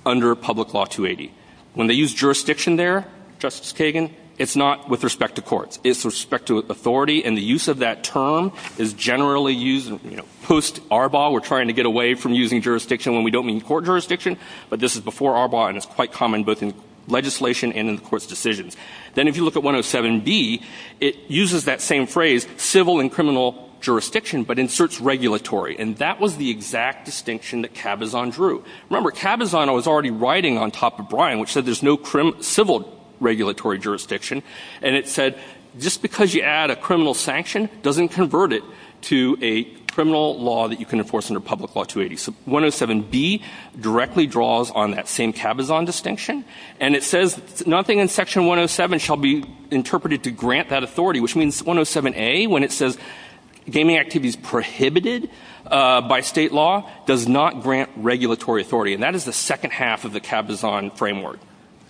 under Public Law 280. When they use jurisdiction there, Justice Kagan, it's not with respect to courts. It's with respect to authority, and the use of that term is generally used, you know, post Arbaugh, we're trying to get away from using jurisdiction when we don't mean court jurisdiction, but this is before Arbaugh, and it's quite common both in legislation and in the court's decisions. Then if you look at 107B, it uses that same phrase, civil and criminal jurisdiction, but inserts regulatory, and that was the exact distinction that Kavazan drew. Remember, Kavazan was already writing on top of Bryan, which said there's no civil regulatory jurisdiction, and it said just because you add a criminal sanction doesn't convert it to a criminal law that you can enforce under Public Law 280. So 107B directly draws on that same Kavazan distinction, and it says nothing in Section 107 shall be interpreted to grant that authority, which means 107A, when it says gaming activity is prohibited by state law, does not grant regulatory authority, and that is the second half of the Kavazan framework.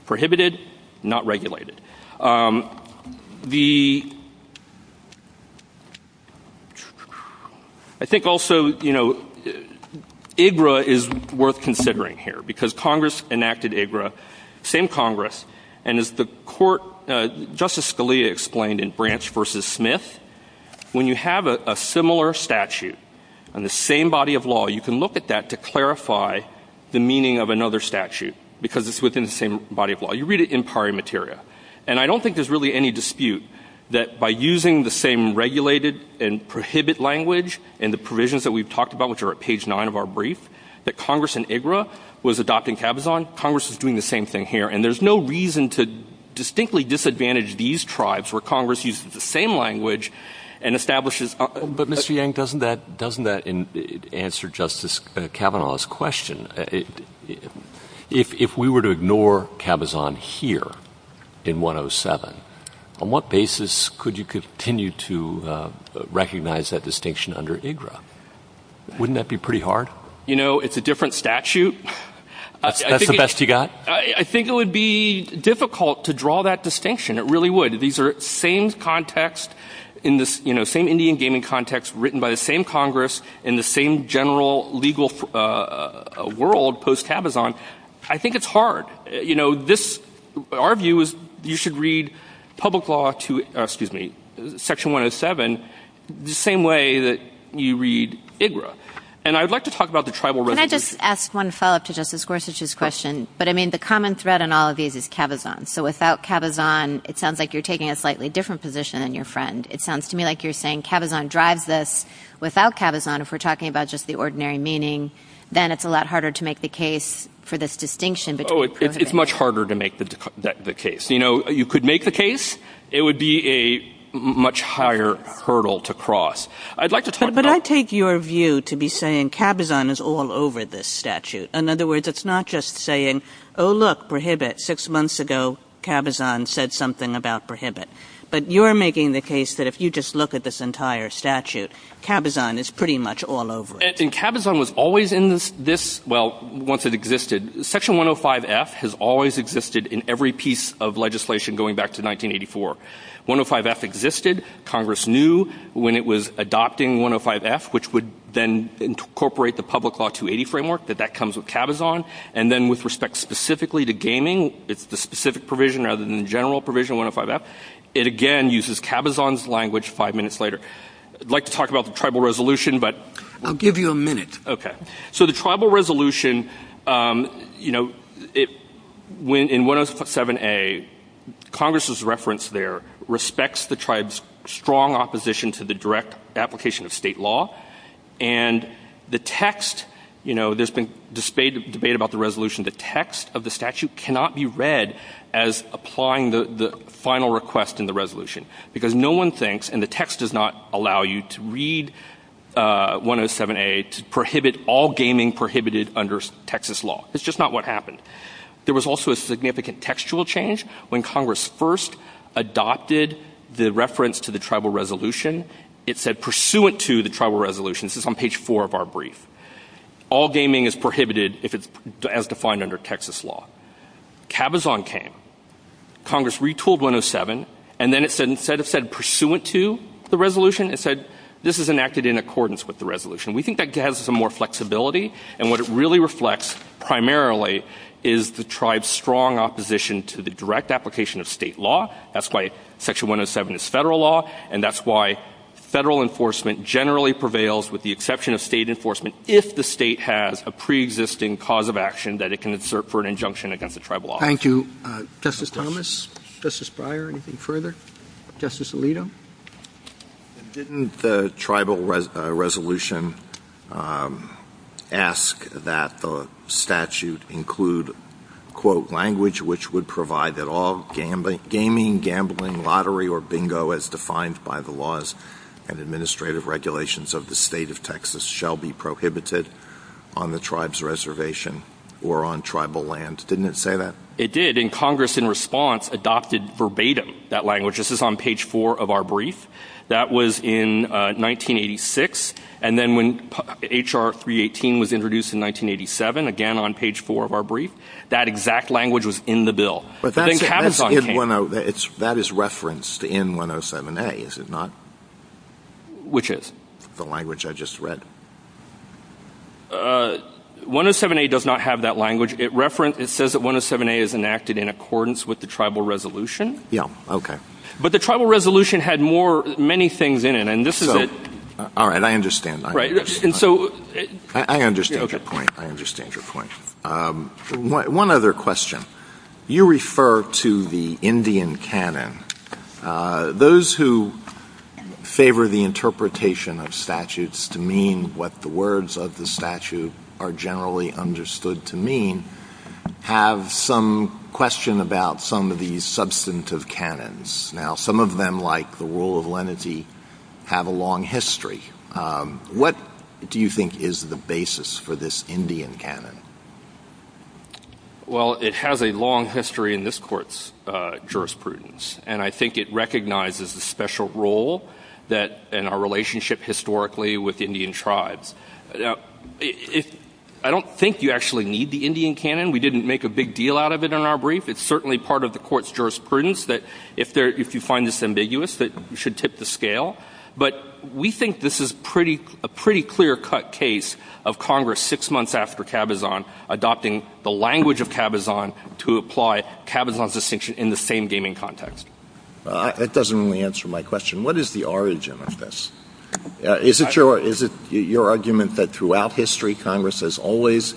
Prohibited, not regulated. I think also, you know, IGRA is worth considering here, because Congress enacted IGRA, same Congress, and as Justice Scalia explained in Branch v. Smith, when you have a similar statute on the same body of law, you can look at that to clarify the meaning of another statute because it's within the same body of law. You read it in pari materia, and I don't think there's really any dispute that by using the same regulated and prohibit language and the provisions that we've talked about, which are at page 9 of our brief, that Congress in IGRA was adopting Kavazan. Congress is doing the same thing here, and there's no reason to distinctly disadvantage these tribes where Congress uses the same language and establishes... But Mr. Yang, doesn't that answer Justice Kavanaugh's question? If we were to ignore Kavazan here in 107, on what basis could you continue to recognize that distinction under IGRA? Wouldn't that be pretty hard? You know, it's a different statute. Is that the best you've got? I think it would be difficult to draw that distinction. It really would. These are same context in this, you know, same Indian gaming context written by the same Congress in the same general legal world post-Kavazan. I think it's hard. You know, our view is you should read public law to section 107 the same way that you read IGRA. And I'd like to talk about the tribal representation. Can I just ask one follow-up to Justice Gorsuch's question? But, I mean, the common thread in all of these is Kavazan. So without Kavazan, it sounds like you're taking a slightly different position than your friend. It sounds to me like you're saying Kavazan drives this. Without Kavazan, if we're talking about just the ordinary meaning, then it's a lot harder to make the case for this distinction. Oh, it's much harder to make the case. You know, you could make the case. It would be a much higher hurdle to cross. But I take your view to be saying Kavazan is all over this statute. In other words, it's not just saying, oh, look, prohibit. Six months ago, Kavazan said something about prohibit. But you're making the case that if you just look at this entire statute, Kavazan is pretty much all over it. And Kavazan was always in this, well, once it existed. Section 105F has always existed in every piece of legislation going back to 1984. 105F existed. Congress knew when it was adopting 105F, which would then incorporate the public law 280 framework, that that comes with Kavazan. And then with respect specifically to gaming, it's the specific provision rather than the general provision of 105F. It, again, uses Kavazan's language five minutes later. I'd like to talk about the tribal resolution. I'll give you a minute. Okay. So the tribal resolution, you know, in 107A, Congress's reference there respects the tribe's strong opposition to the direct application of state law. And the text, you know, there's been debate about the resolution. The text of the statute cannot be read as applying the final request in the resolution because no one thinks, and the text does not allow you to read 107A to prohibit all gaming prohibited under Texas law. It's just not what happened. There was also a significant textual change when Congress first adopted the reference to the tribal resolution. It said pursuant to the tribal resolution. This is on page four of our brief. All gaming is prohibited as defined under Texas law. Kavazan came. Congress retooled 107, and then it said, instead of said pursuant to the resolution, it said this is enacted in accordance with the resolution. We think that gives us some more flexibility, and what it really reflects primarily is the tribe's strong opposition to the direct application of state law. That's why section 107 is federal law, and that's why federal enforcement generally prevails with the exception of state enforcement if the state has a preexisting cause of action that it can insert for an injunction against the tribal office. Thank you. Justice Thomas, Justice Breyer, anything further? Justice Alito? Didn't the tribal resolution ask that the statute include, quote, language which would provide that all gaming, gambling, lottery, or bingo as defined by the laws and administrative regulations of the state of Texas shall be prohibited on the tribe's reservation or on tribal land? Didn't it say that? It did, and Congress in response adopted verbatim that language. This is on page four of our brief. That was in 1986, and then when H.R. 318 was introduced in 1987, again on page four of our brief, that exact language was in the bill. But that is referenced in 107A, is it not? Which is? The language I just read. 107A does not have that language. It says that 107A is enacted in accordance with the tribal resolution. Yeah, okay. But the tribal resolution had many things in it, and this is it. All right, I understand. I understand your point. One other question. You refer to the Indian canon. Those who favor the interpretation of statutes to mean what the words of the statute are generally understood to mean have some question about some of these substantive canons. Now, some of them, like the rule of lenity, have a long history. What do you think is the basis for this Indian canon? Well, it has a long history in this court's jurisprudence, and I think it recognizes a special role in our relationship historically with Indian tribes. I don't think you actually need the Indian canon. We didn't make a big deal out of it in our brief. It's certainly part of the court's jurisprudence that if you find this ambiguous, that you should tip the scale. But we think this is a pretty clear-cut case of Congress six months after Cabazon adopting the language of Cabazon to apply Cabazon's distinction in the same gaming context. That doesn't really answer my question. What is the origin of this? Is it your argument that throughout history, Congress has always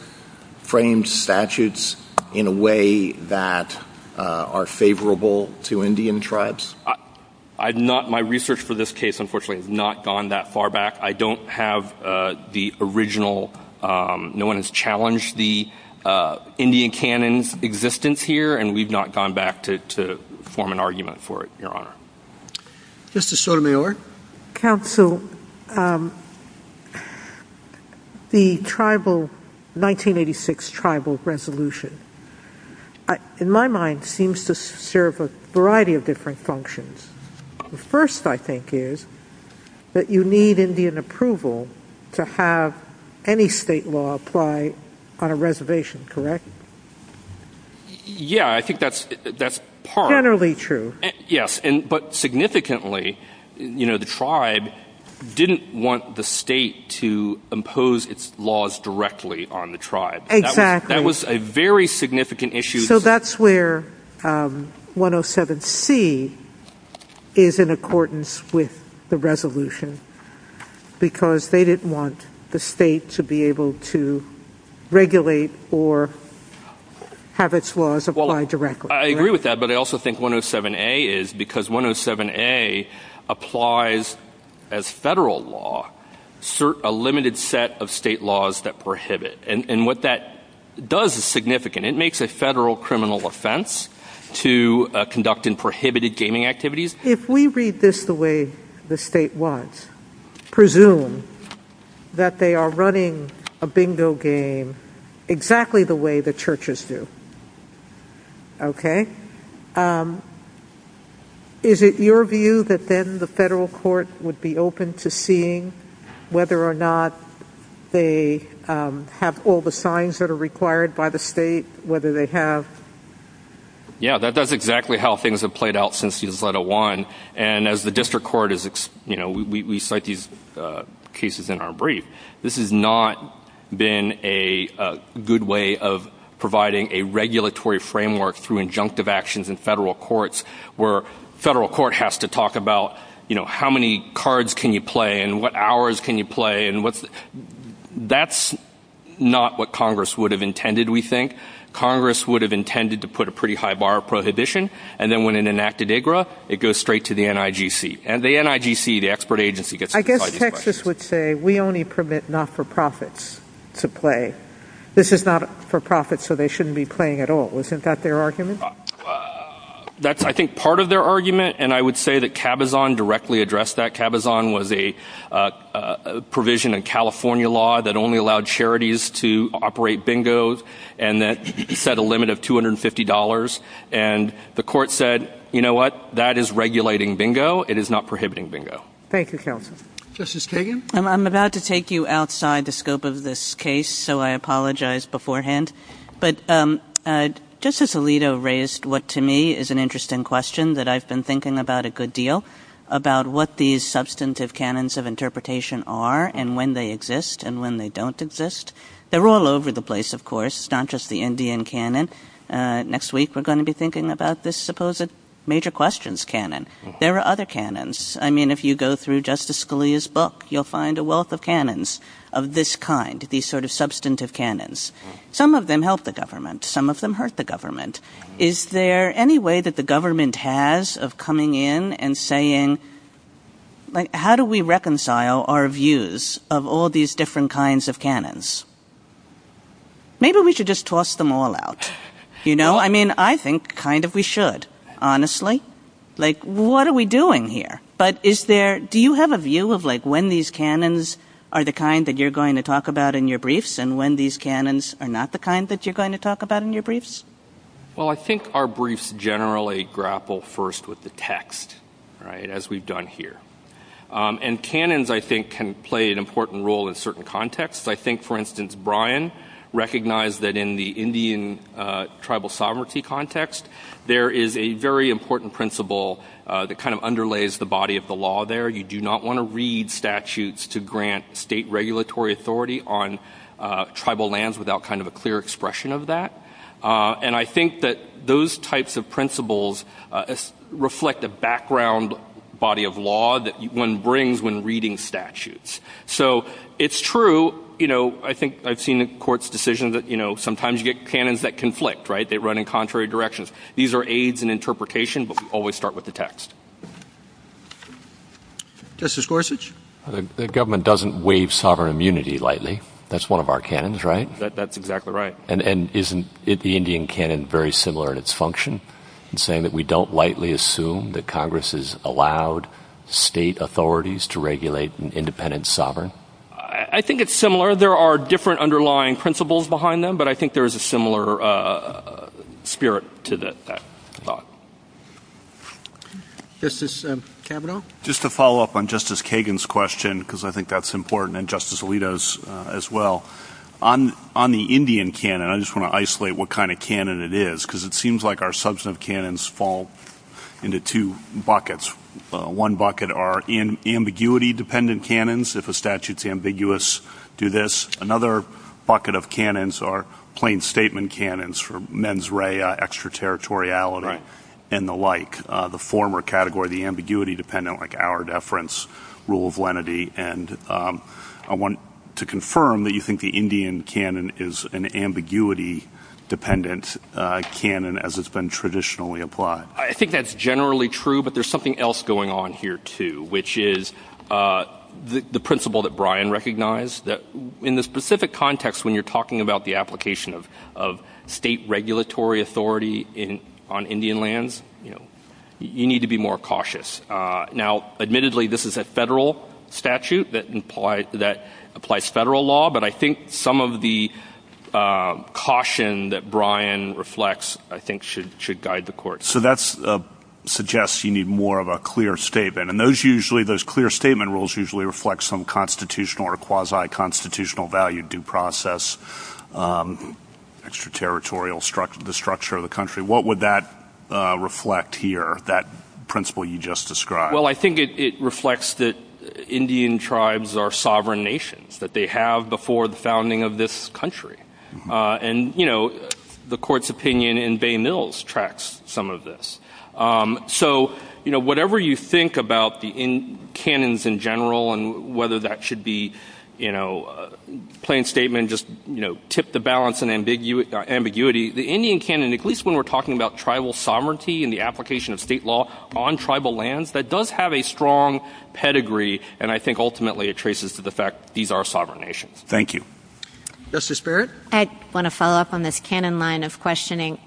framed statutes in a way that are favorable to Indian tribes? My research for this case, unfortunately, has not gone that far back. I don't have the original... No one has challenged the Indian canon's existence here, and we've not gone back to form an argument for it, Your Honor. Justice Sotomayor? Counsel, the 1986 tribal resolution, in my mind, seems to serve a variety of different functions. The first, I think, is that you need Indian approval to have any state law apply on a reservation, correct? Yeah, I think that's part... Generally true. Yes, but significantly, the tribe didn't want the state to impose its laws directly on the tribe. Exactly. That was a very significant issue. So that's where 107C is in accordance with the resolution, because they didn't want the state to be able to regulate or have its laws apply directly. I agree with that, but I also think 107A is, because 107A applies as federal law a limited set of state laws that prohibit. And what that does is significant. It makes a federal criminal offense to conduct unprohibited gaming activities. If we read this the way the state wants, presume that they are running a bingo game exactly the way the churches do, okay? Is it your view that then the federal court would be open to seeing whether or not they have all the signs that are required by the state, whether they have... Yeah, that's exactly how things have played out since the Declarative One. And as the district court is... You know, we cite these cases in our brief. This has not been a good way of providing a regulatory framework through injunctive actions in federal courts where federal court has to talk about, you know, how many cards can you play and what hours can you play and what's... That's not what Congress would have intended, we think. Congress would have intended to put a pretty high bar of prohibition, and then when it enacted IGRA, it goes straight to the NIGC. And the NIGC, the expert agency, gets to decide... I guess Texas would say, we only permit not-for-profits to play. This is not for profit, so they shouldn't be playing at all. Isn't that their argument? That's, I think, part of their argument, and I would say that Cabazon directly addressed that. Cabazon was a provision in California law that only allowed charities to operate bingos and that set a limit of $250. And the court said, you know what? That is regulating bingo. It is not prohibiting bingo. Thank you, counsel. Justice Kagan? I'm about to take you outside the scope of this case, so I apologize beforehand. But Justice Alito raised what, to me, is an interesting question that I've been thinking about a good deal about what these substantive canons of interpretation are and when they exist and when they don't exist. They're all over the place, of course. It's not just the Indian canon. Next week, we're going to be thinking about this supposed major questions canon. There are other canons. I mean, if you go through Justice Scalia's book, you'll find a wealth of canons of this kind, these sort of substantive canons. Some of them help the government. Some of them hurt the government. Is there any way that the government has of coming in and saying, like, how do we reconcile our views of all these different kinds of canons? Maybe we should just toss them all out, you know? I mean, I think kind of we should, honestly. Like, what are we doing here? But is there, do you have a view of, like, when these canons are the kind that you're going to talk about in your briefs and when these canons are not the kind that you're going to talk about in your briefs? Well, I think our briefs generally grapple first with the text, right, as we've done here. And canons, I think, can play an important role in certain contexts. I think, for instance, Bryan recognized that in the Indian tribal sovereignty context, there is a very important principle that kind of underlays the body of the law there. You do not want to read statutes to grant state regulatory authority on tribal lands without kind of a clear expression of that. And I think that those types of principles reflect a background body of law that one brings when reading statutes. So it's true, you know, I think I've seen in courts decisions that, you know, sometimes you get canons that conflict, right? They run in contrary directions. These are aids in interpretation, but we always start with the text. Justice Gorsuch? The government doesn't waive sovereign immunity lightly. That's one of our canons, right? That's exactly right. And isn't the Indian canon very similar in its function in saying that we don't lightly assume that Congress has allowed state authorities to regulate an independent sovereign? I think it's similar. There are different underlying principles behind them, but I think there is a similar spirit to that thought. Justice Kavanaugh? Just to follow up on Justice Kagan's question, because I think that's important, and Justice Alito's as well, on the Indian canon, I just want to isolate what kind of canon it is, because it seems like our substantive canons fall into two buckets. One bucket are ambiguity-dependent canons, if a statute's ambiguous, do this. Another bucket of canons are plain statement canons for mens rea, extraterritoriality, and the like. The former category, the ambiguity-dependent, like our deference rule of lenity. I want to confirm that you think the Indian canon is an ambiguity-dependent canon as it's been traditionally applied. I think that's generally true, but there's something else going on here too, which is the principle that Brian recognized, that in this specific context, when you're talking about the application of state regulatory authority on Indian lands, you need to be more cautious. Now, admittedly, this is a federal statute that applies federal law, but I think some of the caution that Brian reflects I think should guide the court. So that suggests you need more of a clear statement, and those clear statement rules usually reflect some constitutional or quasi-constitutional value, due process, extraterritorial structure of the country. What would that reflect here, that principle you just described? Well, I think it reflects that Indian tribes are sovereign nations, that they have before the founding of this country. And the court's opinion in Bay Mills tracks some of this. So whatever you think about the canons in general and whether that should be a plain statement, just tip the balance in ambiguity, the Indian canon, at least when we're talking about tribal sovereignty and the application of state law on tribal lands, that does have a strong pedigree, and I think ultimately it traces to the fact these are sovereign nations. Thank you. Justice Barrett? I want to follow up on this canon line of questioning.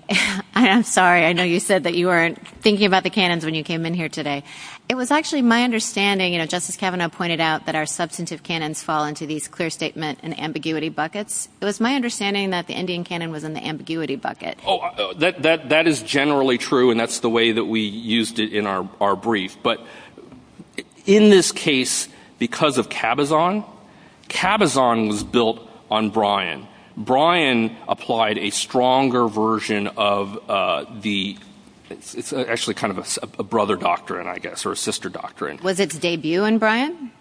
I'm sorry, I know you said that you weren't thinking about the canons when you came in here today. It was actually my understanding, and Justice Kavanaugh pointed out, that our substantive canons fall into these clear statement and ambiguity buckets. It was my understanding that the Indian canon was in the ambiguity bucket. Oh, that is generally true, and that's the way that we used it in our brief. But in this case, because of Cabazon, Cabazon was built on Bryan. Bryan applied a stronger version of the, it's actually kind of a brother doctrine, I guess, or a sister doctrine. Was its debut in Bryan?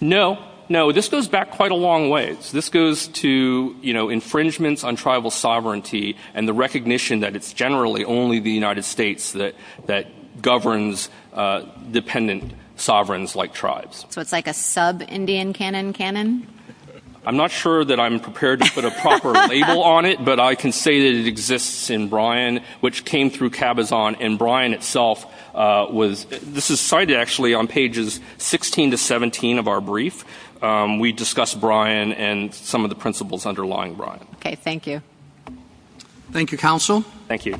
No, no, this goes back quite a long way. This goes to infringements on tribal sovereignty and the recognition that it's generally only the United States that governs dependent sovereigns like tribes. So it's like a sub-Indian canon canon? I'm not sure that I'm prepared to put a proper label on it, but I can say that it exists in Bryan, which came through Cabazon, and Bryan itself was, this is cited actually on pages 16 to 17 of our brief. We discussed Bryan and some of the principles underlying Bryan. Okay, thank you. Thank you, Counsel. Thank you.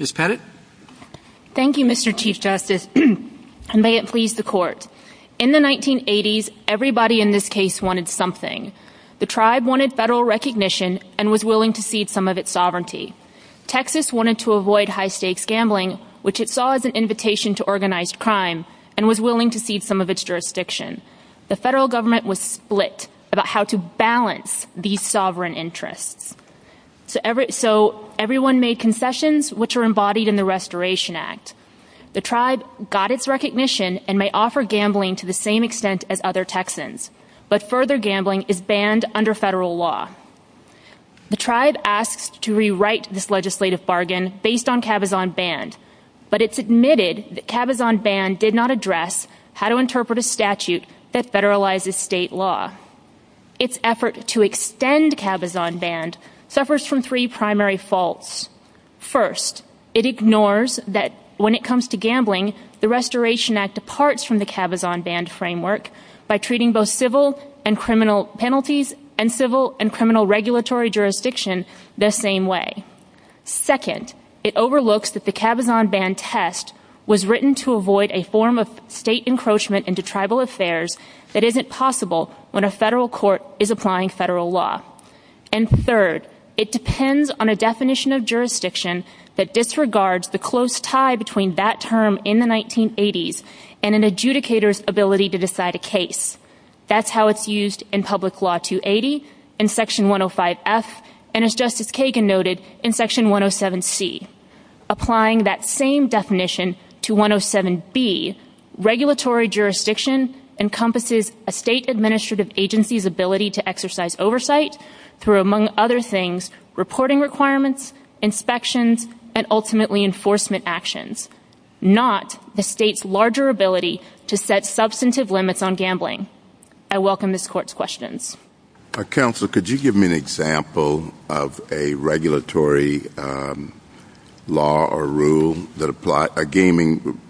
Ms. Pettit. Thank you, Mr. Chief Justice, and may it please the Court. In the 1980s, everybody in this case wanted something. The tribe wanted federal recognition and was willing to cede some of its sovereignty. Texas wanted to avoid high-stakes gambling, which it saw as an invitation to organized crime and was willing to cede some of its jurisdiction. The federal government was split about how to balance these sovereign interests. So everyone made concessions, which are embodied in the Restoration Act. The tribe got its recognition and may offer gambling to the same extent as other Texans, but further gambling is banned under federal law. The tribe asked to rewrite this legislative bargain based on Cabazon Banned, but it submitted that Cabazon Banned did not address how to interpret a statute that federalizes state law. Its effort to extend Cabazon Banned suffers from three primary faults. First, it ignores that when it comes to gambling, the Restoration Act departs from the Cabazon Banned framework by treating both civil and criminal penalties and civil and criminal regulatory jurisdiction the same way. Second, it overlooks that the Cabazon Banned test was written to avoid a form of state encroachment into tribal affairs that isn't possible when a federal court is applying federal law. And third, it depends on a definition of jurisdiction that disregards the close tie between that term in the 1980s and an adjudicator's ability to decide a case. That's how it's used in Public Law 280, in Section 105F, and as Justice Kagan noted, in Section 107C. Applying that same definition to 107B, regulatory jurisdiction encompasses a state administrative agency's ability to exercise oversight through, among other things, reporting requirements, inspections, and ultimately enforcement actions, not the state's larger ability to set substantive limits on gambling. I welcome this Court's questions. Counselor, could you give me an example of a regulatory law or rule that applies, a gaming,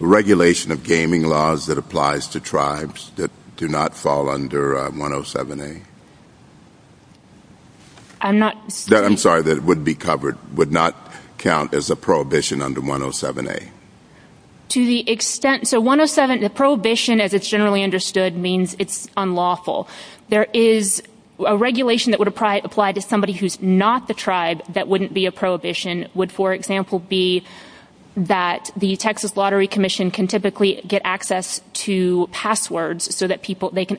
regulation of gaming laws that applies to tribes that do not fall under 107A? I'm not... I'm sorry, that would be covered, would not count as a prohibition under 107A. To the extent... So 107, the prohibition, as it's generally understood, means it's unlawful. There is a regulation that would apply to somebody who's not the tribe that wouldn't be a prohibition. Would, for example, be that the Texas Lottery Commission can typically get access to passwords so that they can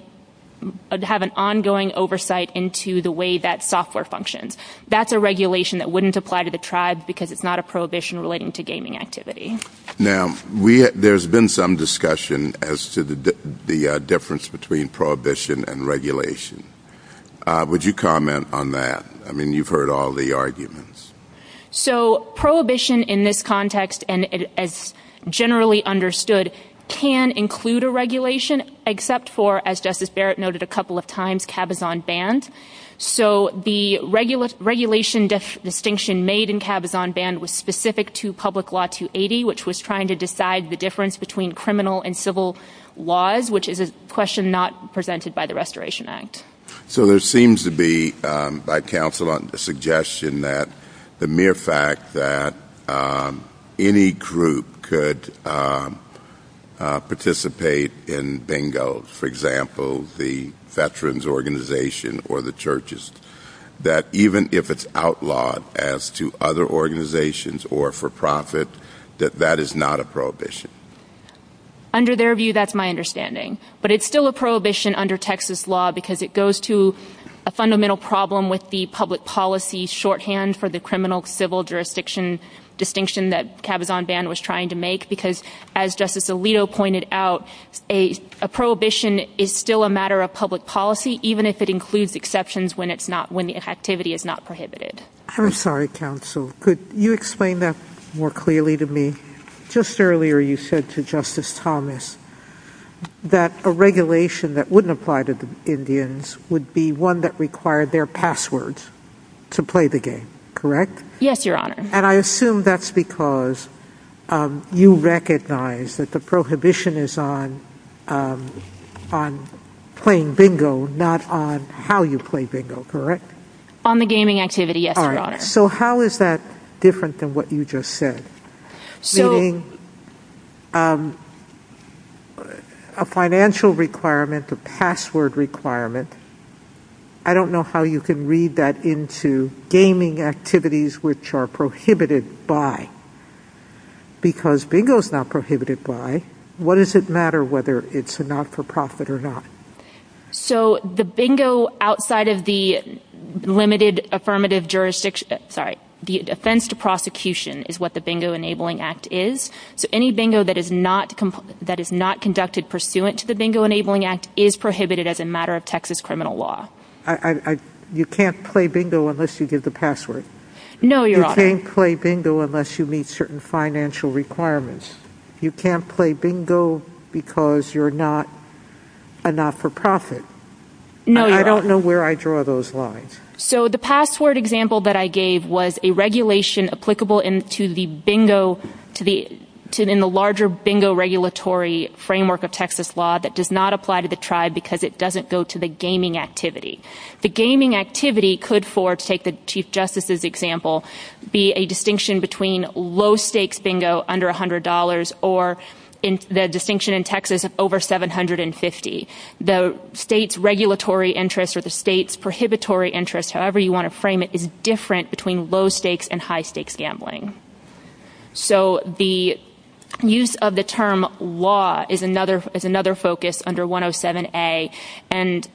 have an ongoing oversight into the way that software functions. That's a regulation that wouldn't apply to the tribes because it's not a prohibition relating to gaming activity. Now, there's been some discussion as to the difference between prohibition and regulation. Would you comment on that? I mean, you've heard all the arguments. So prohibition in this context, as generally understood, can include a regulation except for, as Justice Barrett noted a couple of times, cabazon bans. So the regulation distinction made in cabazon ban was specific to Public Law 280, which was trying to decide the difference between criminal and civil laws, which is a question not presented by the Restoration Act. So there seems to be, by counsel, a suggestion that the mere fact that any group could participate in bingos, for example, the veterans organization or the churches, that even if it's outlawed as to other organizations or for profit, that that is not a prohibition. Under their view, that's my understanding. But it's still a prohibition under Texas law because it goes to a fundamental problem with the public policy shorthand for the criminal-civil jurisdiction distinction that cabazon ban was trying to make because, as Justice Alito pointed out, a prohibition is still a matter of public policy, even if it includes exceptions when the activity is not prohibited. I'm sorry, counsel. Could you explain that more clearly to me? Just earlier you said to Justice Thomas that a regulation that wouldn't apply to the Indians would be one that required their passwords to play the game, correct? Yes, Your Honor. And I assume that's because you recognize that the prohibition is on playing bingo, not on how you play bingo, correct? On the gaming activity, yes, Your Honor. All right. So how is that different than what you just said? So a financial requirement, a password requirement, I don't know how you can read that into gaming activities which are prohibited by. Because bingo is not prohibited by. What does it matter whether it's a not-for-profit or not? So the bingo outside of the limited affirmative jurisdiction, sorry, the offense to prosecution is what the Bingo Enabling Act is. So any bingo that is not conducted pursuant to the Bingo Enabling Act is prohibited as a matter of Texas criminal law. You can't play bingo unless you give the password. No, Your Honor. You can't play bingo unless you meet certain financial requirements. You can't play bingo because you're not a not-for-profit. No, Your Honor. I don't know where I draw those lines. So the password example that I gave was a regulation applicable in the larger bingo regulatory framework of Texas law that does not apply to the tribe because it doesn't go to the gaming activity. The gaming activity could, to take the Chief Justice's example, be a distinction between low-stakes bingo under $100 or the distinction in Texas over $750. The state's regulatory interest or the state's prohibitory interest, however you want to frame it, is different between low-stakes and high-stakes gambling. So the use of the term law is another focus under 107A, and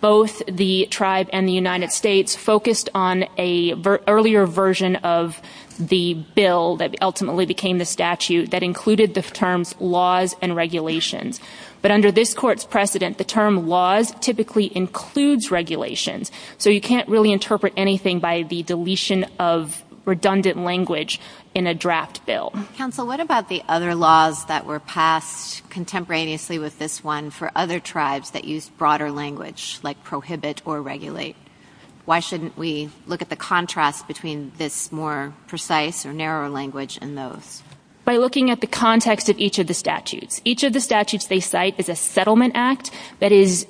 both the tribe and the United States focused on an earlier version of the bill that ultimately became the statute that included the terms laws and regulations. But under this court's precedent, the term laws typically includes regulations, so you can't really interpret anything by the deletion of redundant language in a draft bill. Counsel, what about the other laws that were passed contemporaneously with this one for other tribes that use broader language like prohibit or regulate? Why shouldn't we look at the contrast between this more precise or narrow language in those? By looking at the context of each of the statutes. Each of the statutes they cite is a settlement act that is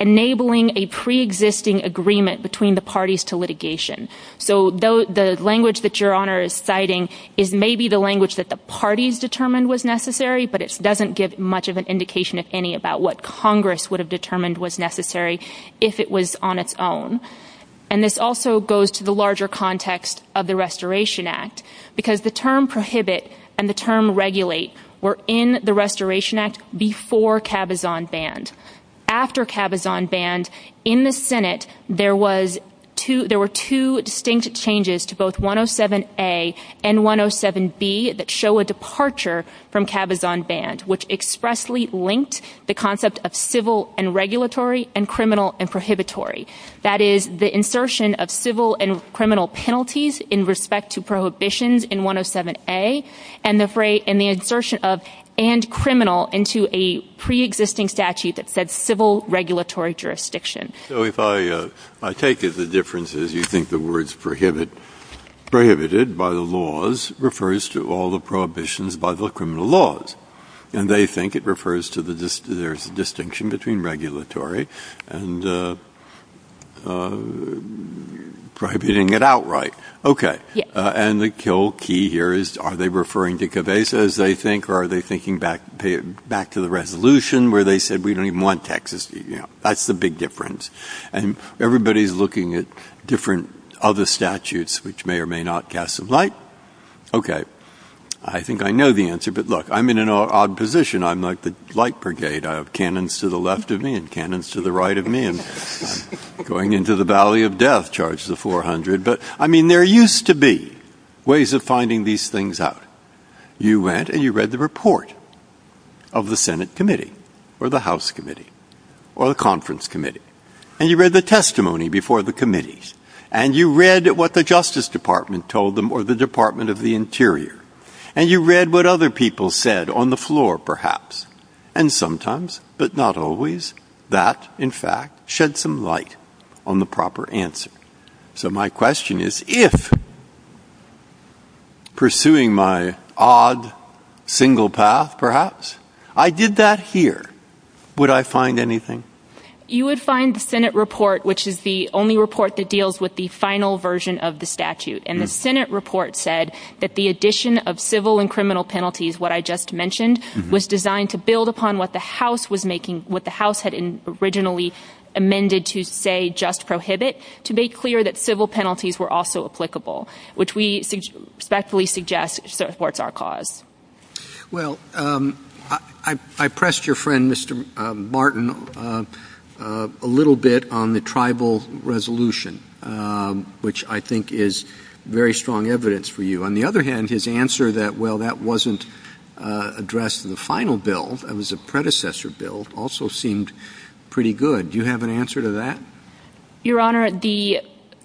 enabling a preexisting agreement between the parties to litigation. So the language that Your Honor is citing is maybe the language that the parties determined was necessary, but it doesn't give much of an indication, if any, about what Congress would have determined was necessary if it was on its own. And this also goes to the larger context of the Restoration Act, because the term prohibit and the term regulate were in the Restoration Act before Cabazon banned. After Cabazon banned, in the Senate there were two distinct changes to both 107A and 107B that show a departure from Cabazon banned, which expressly linked the concept of civil and regulatory and criminal and prohibitory. That is, the insertion of civil and criminal penalties in respect to prohibitions in 107A and the insertion of and criminal into a preexisting statute that said civil regulatory jurisdiction. So if I take it the difference is you think the words prohibited by the laws refers to all the prohibitions by the criminal laws. And they think it refers to the distinction between regulatory and prohibiting it outright. OK. And the key here is are they referring to Cabazon as they think or are they thinking back to the resolution where they said we don't even want taxes? That's the big difference. And everybody's looking at different other statutes which may or may not cast some light. OK, I think I know the answer. But look, I'm in an odd position. I'm like the light brigade. I have cannons to the left of me and cannons to the right of me. And I'm going into the valley of death, charge the 400. But, I mean, there used to be ways of finding these things out. You went and you read the report of the Senate committee or the House committee or the conference committee. And you read the testimony before the committees. And you read what the Justice Department told them or the Department of the Interior. And you read what other people said on the floor, perhaps. And sometimes, but not always, that, in fact, shed some light on the proper answer. So my question is if, pursuing my odd single path, perhaps, I did that here, would I find anything? You would find the Senate report, which is the only report that deals with the final version of the statute. And the Senate report said that the addition of civil and criminal penalties, what I just mentioned, was designed to build upon what the House had originally amended to, say, just prohibit, to make clear that civil penalties were also applicable, which we especially suggest supports our cause. Well, I pressed your friend, Mr. Martin, a little bit on the tribal resolution, which I think is very strong evidence for you. On the other hand, his answer that, well, that wasn't addressed in the final bill, it was a predecessor bill, also seemed pretty good. Do you have an answer to that? Your Honor, the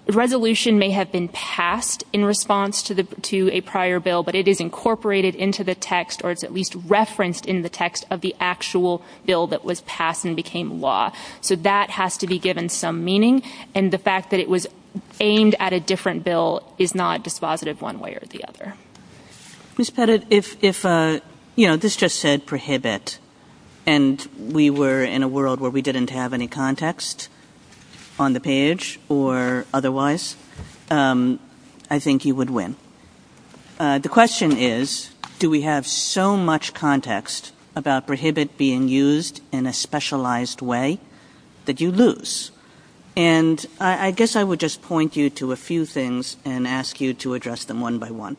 resolution may have been passed in response to a prior bill, but it is incorporated into the text, or it's at least referenced in the text, of the actual bill that was passed and became law. So that has to be given some meaning. And the fact that it was aimed at a different bill is not dispositive one way or the other. Ms. Pettit, if, you know, this just said prohibit, and we were in a world where we didn't have any context on the page or otherwise, I think you would win. The question is, do we have so much context about prohibit being used in a specialized way that you lose? And I guess I would just point you to a few things and ask you to address them one by one.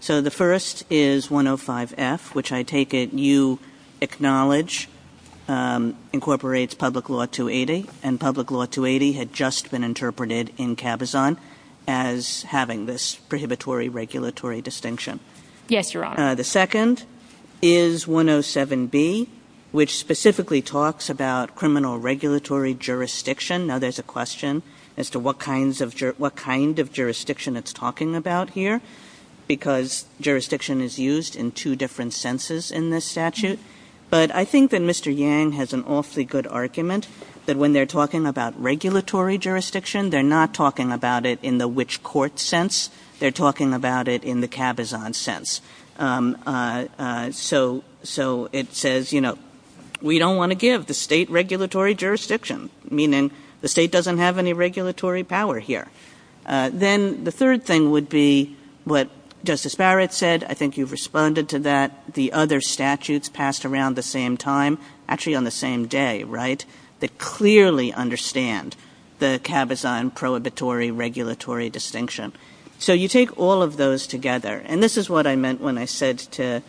So the first is 105F, which I take it you acknowledge incorporates Public Law 280, and Public Law 280 had just been interpreted in Cabazon as having this prohibitory regulatory distinction. Yes, Your Honor. The second is 107B, which specifically talks about criminal regulatory jurisdiction. Now, there's a question as to what kind of jurisdiction it's talking about here, because jurisdiction is used in two different senses in this statute. But I think that Mr. Yang has an awfully good argument that when they're talking about regulatory jurisdiction, they're not talking about it in the which court sense. They're talking about it in the Cabazon sense. So it says, you know, we don't want to give the state regulatory jurisdiction, meaning the state doesn't have any regulatory power here. Then the third thing would be what Justice Barrett said. I think you've responded to that. The other statutes passed around the same time, actually on the same day, right, that clearly understand the Cabazon prohibitory regulatory distinction. So you take all of those together, and this is what I meant when I said to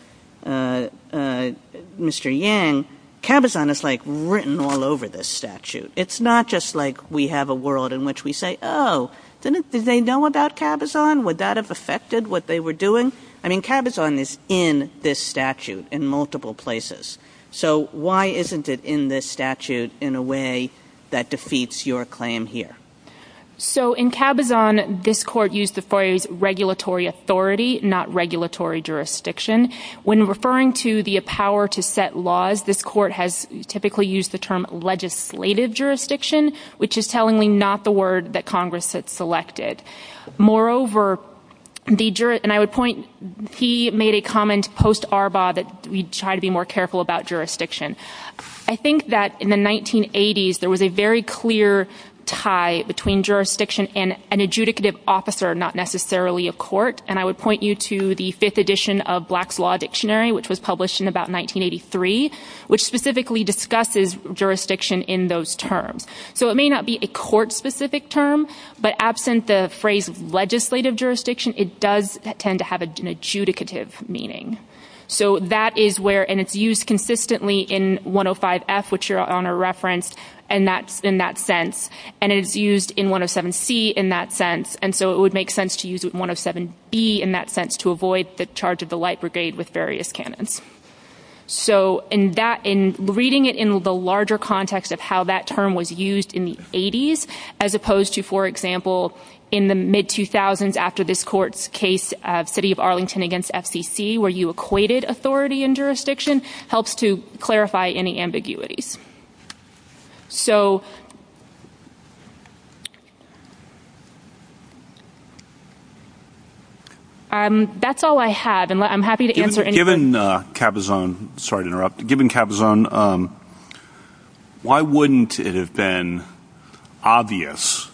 Mr. Yang, Cabazon is like written all over this statute. It's not just like we have a world in which we say, oh, did they know about Cabazon? Would that have affected what they were doing? I mean, Cabazon is in this statute in multiple places. So why isn't it in this statute in a way that defeats your claim here? So in Cabazon, this court used the phrase regulatory authority, not regulatory jurisdiction. When referring to the power to set laws, this court has typically used the term legislative jurisdiction, which is tellingly not the word that Congress has selected. Moreover, and I would point, he made a comment post-Arbaugh that we try to be more careful about jurisdiction. I think that in the 1980s, there was a very clear tie between jurisdiction and an adjudicative officer, not necessarily a court, and I would point you to the fifth edition of Black's Law Dictionary, which was published in about 1983, which specifically discusses jurisdiction in those terms. So it may not be a court-specific term, but absent the phrase legislative jurisdiction, it does tend to have an adjudicative meaning. So that is where, and it's used consistently in 105F, which you're on a reference in that sense, and it's used in 107C in that sense, and so it would make sense to use 107B in that sense to avoid the charge of the light brigade with various canons. So in reading it in the larger context of how that term was used in the 80s, as opposed to, for example, in the mid-2000s after this court's case, City of Arlington against FCC, where you equated authority and jurisdiction, helps to clarify any ambiguity. That's all I have, and I'm happy to answer any questions. Given Capizone, sorry to interrupt, given Capizone, why wouldn't it have been obvious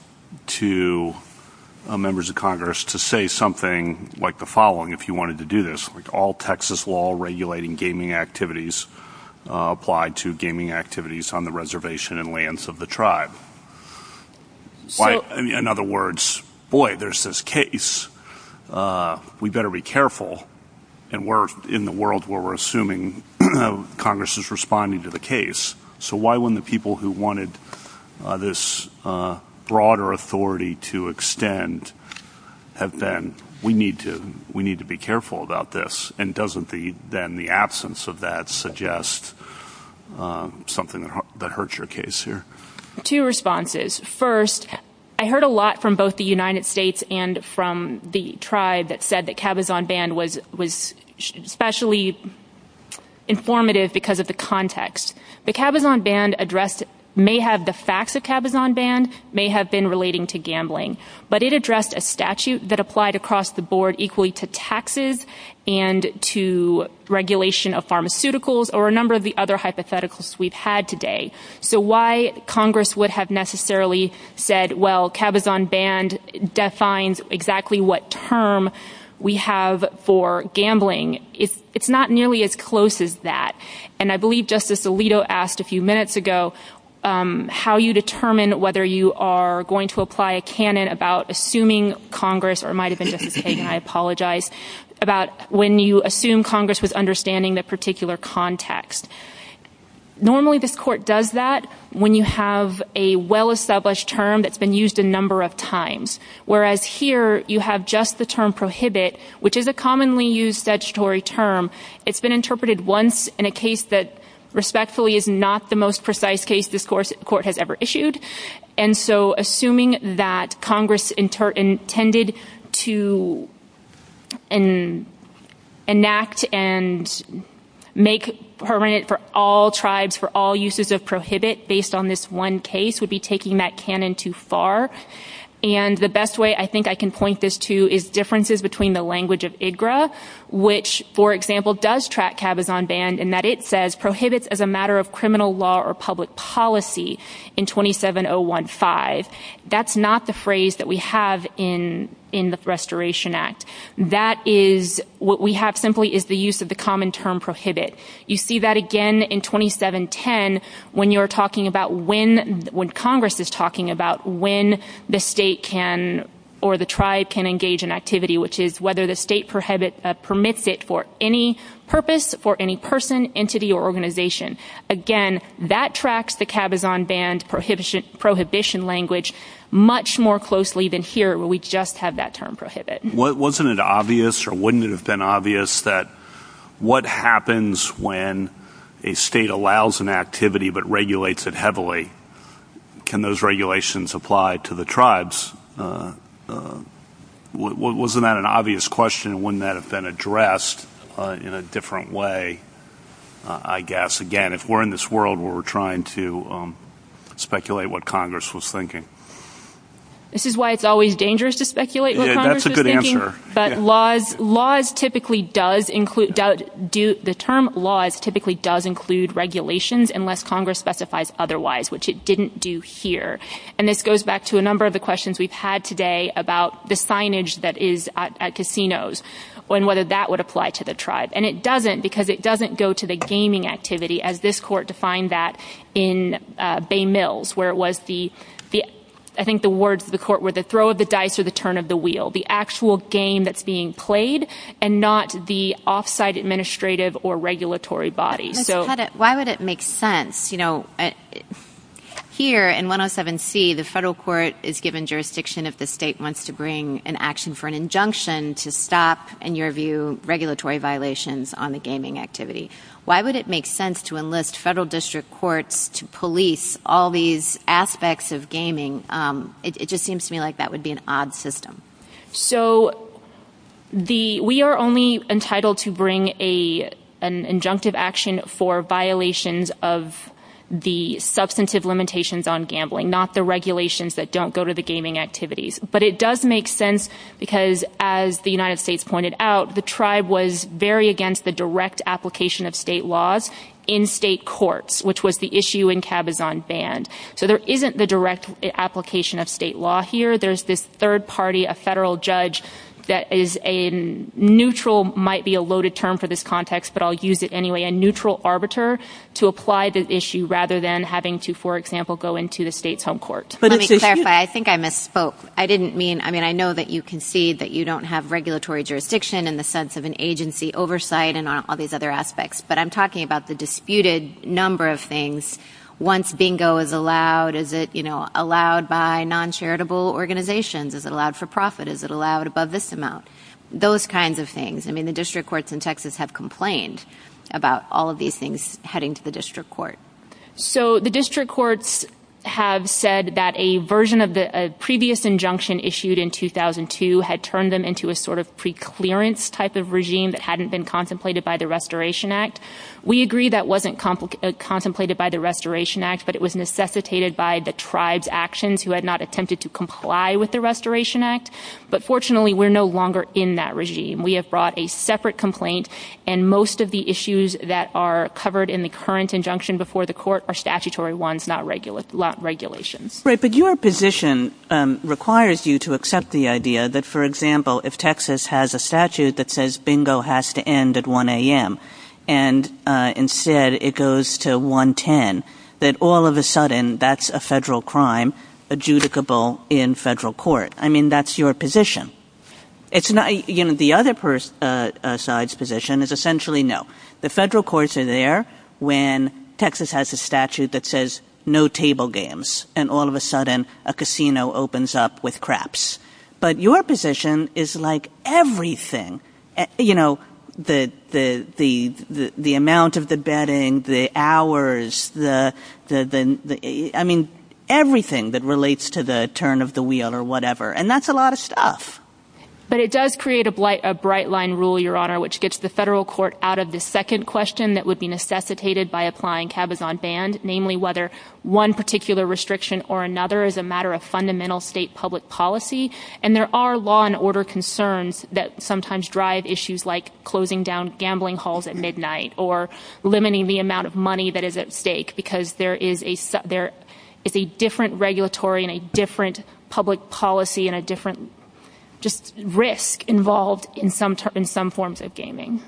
to members of Congress to say something like the following if you wanted to do this, like all Texas law regulating gaming activities applied to gaming activities on the reservation and lands of the tribe? In other words, boy, there's this case. We better be careful, and we're in the world where we're assuming Congress is responding to the case. So why wouldn't the people who wanted this broader authority to extend have been, we need to be careful about this, and doesn't the absence of that suggest something that hurts your case here? Two responses. First, I heard a lot from both the United States and from the tribe that said that Capizone Ban was especially informative because of the context. The Capizone Ban addressed may have the facts of Capizone Ban, may have been relating to gambling, but it addressed a statute that applied across the board equally to taxes and to regulation of pharmaceuticals or a number of the other hypotheticals we've had today. So why Congress would have necessarily said, well, Capizone Ban defines exactly what term we have for gambling, it's not nearly as close as that. And I believe Justice Alito asked a few minutes ago how you determine whether you are going to apply a canon about assuming Congress, or it might have been Justice Hagin, I apologize, about when you assume Congress was understanding the particular context. Normally this court does that when you have a well-established term that's been used a number of times, whereas here you have just the term prohibit, which is a commonly used statutory term. It's been interpreted once in a case that respectfully is not the most precise case this court has ever issued, and so assuming that Congress intended to enact and make perennial for all tribes for all uses of prohibit based on this one case would be taking that canon too far. And the best way I think I can point this to is differences between the language of IDGRA, which, for example, does track Capizone Ban in that it says, prohibits as a matter of criminal law or public policy in 27015. That's not the phrase that we have in the Restoration Act. That is what we have simply is the use of the common term prohibit. You see that again in 2710 when you're talking about when Congress is talking about when the state can or the tribe can engage in activity, which is whether the state permits it for any purpose, for any person, entity, or organization. Again, that tracks the Capizone Ban prohibition language much more closely than here, where we just have that term prohibit. Wasn't it obvious or wouldn't it have been obvious that what happens when a state allows an activity but regulates it heavily, can those regulations apply to the tribes? Wasn't that an obvious question? Wouldn't that have been addressed in a different way, I guess, again, if we're in this world where we're trying to speculate what Congress was thinking? This is why it's always dangerous to speculate what Congress was thinking. Yeah, that's a good answer. But the term laws typically does include regulations unless Congress specifies otherwise, which it didn't do here. And this goes back to a number of the questions we've had today about the signage that is at casinos and whether that would apply to the tribe. And it doesn't because it doesn't go to the gaming activity, as this court defined that in Bay Mills, where it was the, I think the words of the court were the throw of the dice or the turn of the wheel, the actual game that's being played and not the off-site administrative or regulatory body. Why would it make sense? Here in 107C, the federal court is given jurisdiction if the state wants to bring an action for an injunction to stop, in your view, regulatory violations on the gaming activity. Why would it make sense to enlist federal district courts to police all these aspects of gaming? It just seems to me like that would be an odd system. So we are only entitled to bring an injunctive action for violations of the substantive limitations on gambling, not the regulations that don't go to the gaming activities. But it does make sense because, as the United States pointed out, the tribe was very against the direct application of state laws in state courts, which was the issue in Cabazon Band. So there isn't the direct application of state law here. There's this third party, a federal judge, that is a neutral, might be a loaded term for this context, but I'll use it anyway, a neutral arbiter to apply this issue rather than having to, for example, go into the state's home court. Let me clarify. I think I misspoke. I didn't mean, I mean, I know that you concede that you don't have regulatory jurisdiction in the sense of an agency oversight and all these other aspects. But I'm talking about the disputed number of things. Once bingo is allowed, is it, you know, allowed by noncharitable organizations? Is it allowed for profit? Is it allowed above this amount? Those kinds of things. I mean, the district courts in Texas have complained about all of these things heading to the district court. So the district courts have said that a version of the previous injunction issued in 2002 had turned them into a sort of preclearance type of regime that hadn't been contemplated by the Restoration Act. We agree that wasn't contemplated by the Restoration Act, but it was necessitated by the tribe's actions who had not attempted to comply with the Restoration Act. But fortunately, we're no longer in that regime. We have brought a separate complaint, and most of the issues that are covered in the current injunction before the court are statutory ones, not regulations. Right, but your position requires you to accept the idea that, for example, if Texas has a statute that says bingo has to end at 1 a.m. and instead it goes to 1 10, that all of a sudden that's a federal crime adjudicable in federal court. I mean, that's your position. The other side's position is essentially no. The federal courts are there when Texas has a statute that says no table games, and all of a sudden a casino opens up with craps. But your position is like everything. The amount of the betting, the hours, I mean, everything that relates to the turn of the wheel or whatever, and that's a lot of stuff. But it does create a bright line rule, Your Honor, which gets the federal court out of the second question that would be necessitated by applying cabazon band, namely whether one particular restriction or another is a matter of fundamental state public policy. And there are law and order concerns that sometimes drive issues like closing down gambling halls at midnight or limiting the amount of money that is at stake because there is a different regulatory and a different public policy and a different just risk involved in some forms of gaming.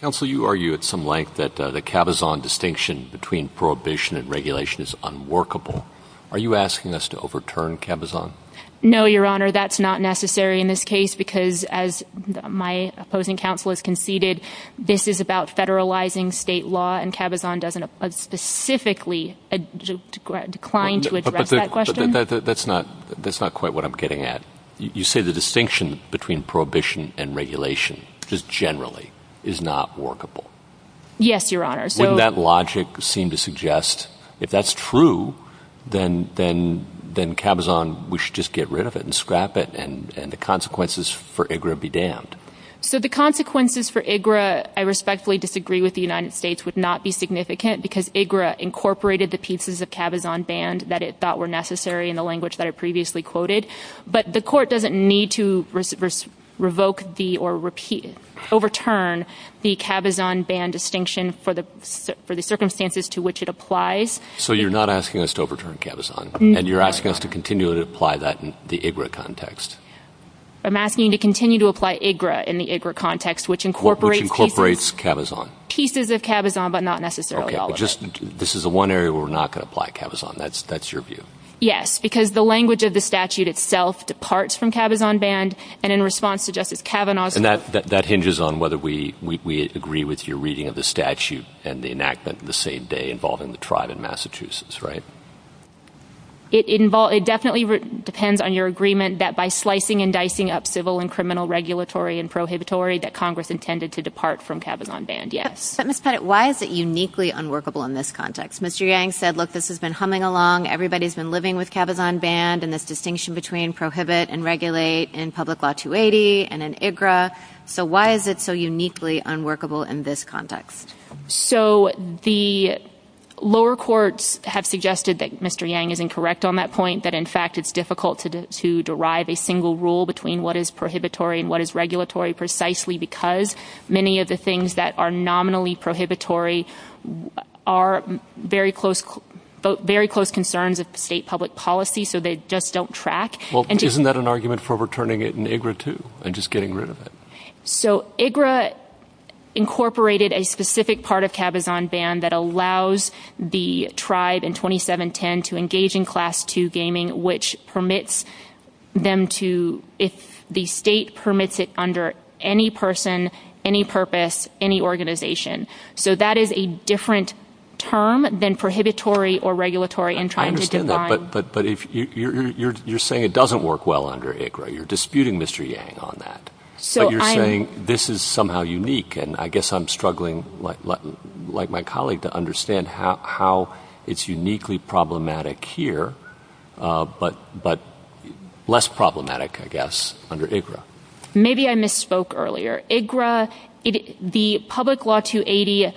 Counselor, you argue at some length that the cabazon distinction between prohibition and regulation is unworkable. Are you asking us to overturn cabazon? No, Your Honor. That's not necessary in this case because, as my opposing counsel has conceded, this is about federalizing state law, and cabazon doesn't specifically decline to address that question. That's not quite what I'm getting at. You say the distinction between prohibition and regulation is generally is not workable. Yes, Your Honor. Wouldn't that logic seem to suggest if that's true, then cabazon, we should just get rid of it and scrap it and the consequences for IGRA be damned? So the consequences for IGRA, I respectfully disagree with the United States, would not be significant because IGRA incorporated the pieces of cabazon band that were necessary in the language that I previously quoted, but the court doesn't need to overturn the cabazon band distinction for the circumstances to which it applies. So you're not asking us to overturn cabazon, and you're asking us to continue to apply that in the IGRA context? I'm asking you to continue to apply IGRA in the IGRA context, which incorporates cabazon. Pieces of cabazon, but not necessarily. Okay, this is the one area where we're not going to apply cabazon. That's your view? Yes, because the language of the statute itself departs from cabazon band and in response to Justice Kavanaugh's And that hinges on whether we agree with your reading of the statute and the enactment on the same day involving the tribe in Massachusetts, right? It definitely depends on your agreement that by slicing and dicing up civil and criminal regulatory and prohibitory that Congress intended to depart from cabazon band, yes. But Ms. Pettit, why is it uniquely unworkable in this context? Mr. Yang said, look, this has been humming along, everybody's been living with cabazon band and this distinction between prohibit and regulate in public law 280 and in IGRA. So why is it so uniquely unworkable in this context? So the lower courts have suggested that Mr. Yang is incorrect on that point, that in fact it's difficult to derive a single rule between what is prohibitory and what is regulatory precisely because many of the things that are nominally prohibitory are very close concerns of the state public policy so they just don't track. Well, isn't that an argument for returning it in IGRA too and just getting rid of it? So IGRA incorporated a specific part of cabazon band that allows the tribe in 2710 to engage in class 2 gaming which permits them to, the state permits it under any person, any purpose, any organization. So that is a different term than prohibitory or regulatory. I understand that, but you're saying it doesn't work well under IGRA. You're disputing Mr. Yang on that. But you're saying this is somehow unique and I guess I'm struggling, like my colleague, to understand how it's uniquely problematic here but less problematic, I guess, under IGRA. Maybe I misspoke earlier. IGRA, the public law 280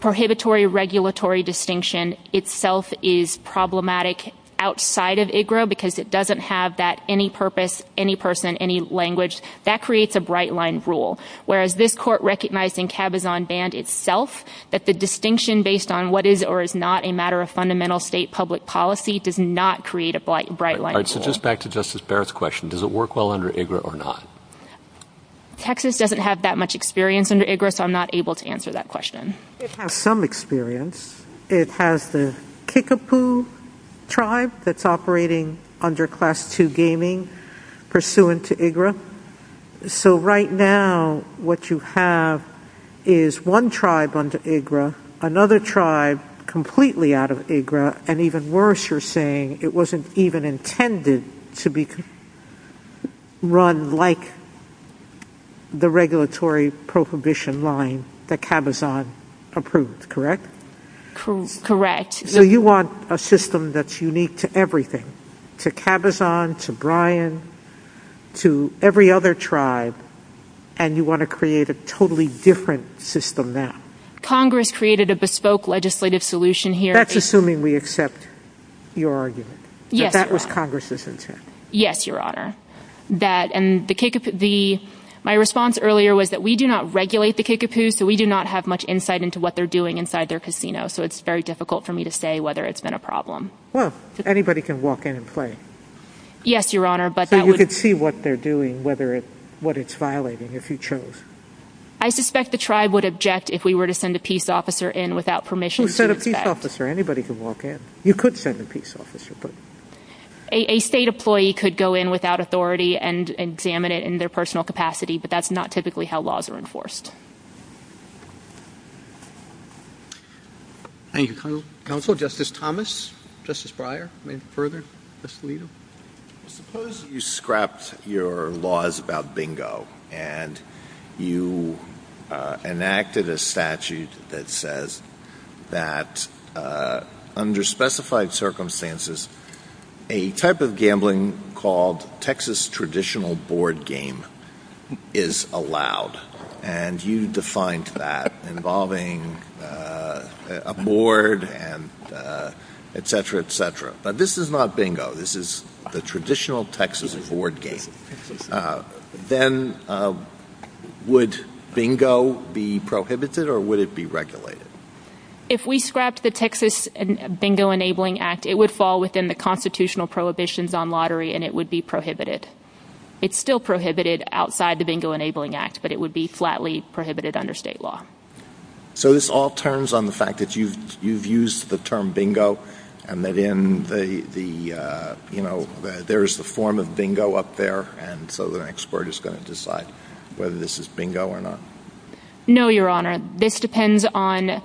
prohibitory regulatory distinction itself is problematic outside of IGRA because it doesn't have that any purpose, any person, any language. That creates a bright line rule. Whereas this court recognized in cabazon band itself that the distinction based on what is or is not a matter of fundamental state public policy does not create a bright line rule. So just back to Justice Barrett's question, does it work well under IGRA or not? Texas doesn't have that much experience under IGRA, so I'm not able to answer that question. It has some experience. It has the Kickapoo tribe that's operating under class 2 gaming pursuant to IGRA. So right now what you have is one tribe under IGRA, another tribe completely out of IGRA, and even worse you're saying it wasn't even intended to be run like the regulatory prohibition line that cabazon approved, correct? Correct. So you want a system that's unique to everything, to cabazon, to Brian, to every other tribe, and you want to create a totally different system now. Congress created a bespoke legislative solution here. That's assuming we accept your argument. Yes, Your Honor. But that was Congress's intent. Yes, Your Honor. My response earlier was that we do not regulate the Kickapoo, so we do not have much insight into what they're doing inside their casino, so it's very difficult for me to say whether it's been a problem. Well, anybody can walk in and play. Yes, Your Honor. So you can see what they're doing, what it's violating, if you chose. I suspect the tribe would object if we were to send a peace officer in without permission. You could send a peace officer. Anybody can walk in. You could send a peace officer. A state employee could go in without authority and examine it in their personal capacity, but that's not typically how laws are enforced. Thank you, Counsel. Counsel, Justice Thomas? Justice Breyer? Maybe further? Justice Alito? Suppose you scrapped your laws about bingo and you enacted a statute that says that under specified circumstances, a type of gambling called Texas traditional board game is allowed, and you defined that involving a board, et cetera, et cetera. Now, this is not bingo. This is the traditional Texas board game. Then would bingo be prohibited or would it be regulated? If we scrapped the Texas Bingo Enabling Act, it would fall within the constitutional prohibitions on lottery and it would be prohibited. It's still prohibited outside the Bingo Enabling Act, but it would be flatly prohibited under state law. So this all turns on the fact that you've used the term bingo and that there is the form of bingo up there, and so the next court is going to decide whether this is bingo or not? No, Your Honor. This depends on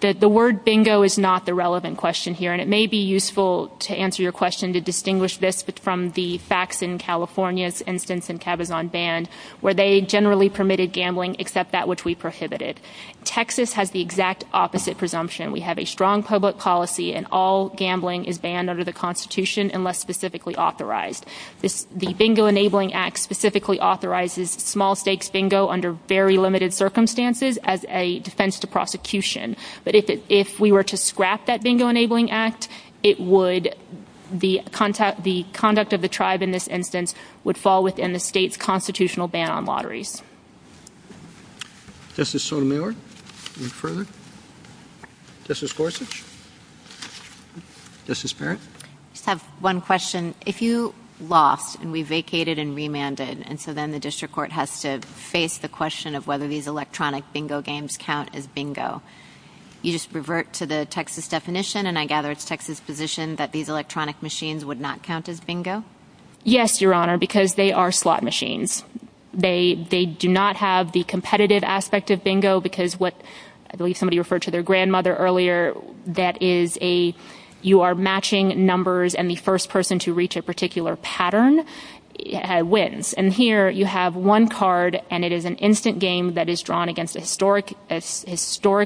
the word bingo is not the relevant question here, and it may be useful to answer your question to distinguish this from the facts in California and since NCAB is unbanned where they generally permitted gambling except that which we prohibited. Texas has the exact opposite presumption. We have a strong public policy and all gambling is banned under the Constitution unless specifically authorized. The Bingo Enabling Act specifically authorizes small stakes bingo under very limited circumstances as a defense to prosecution, but if we were to scrap that Bingo Enabling Act, the conduct of the tribe in this instance would fall within the state's constitutional ban on lotteries. Justice Sotomayor, any further? Justice Gorsuch? Justice Barrett? I have one question. If you lost and we vacated and remanded, and so then the district court has to face the question of whether these electronic bingo games count as bingo, you just revert to the Texas definition, and I gather it's Texas' position that these electronic machines would not count as bingo? Yes, Your Honor, because they are slot machines. They do not have the competitive aspect of bingo because what, I believe somebody referred to their grandmother earlier, that is you are matching numbers and the first person to reach a particular pattern wins. And here you have one card and it is an instant game that is drawn against a historic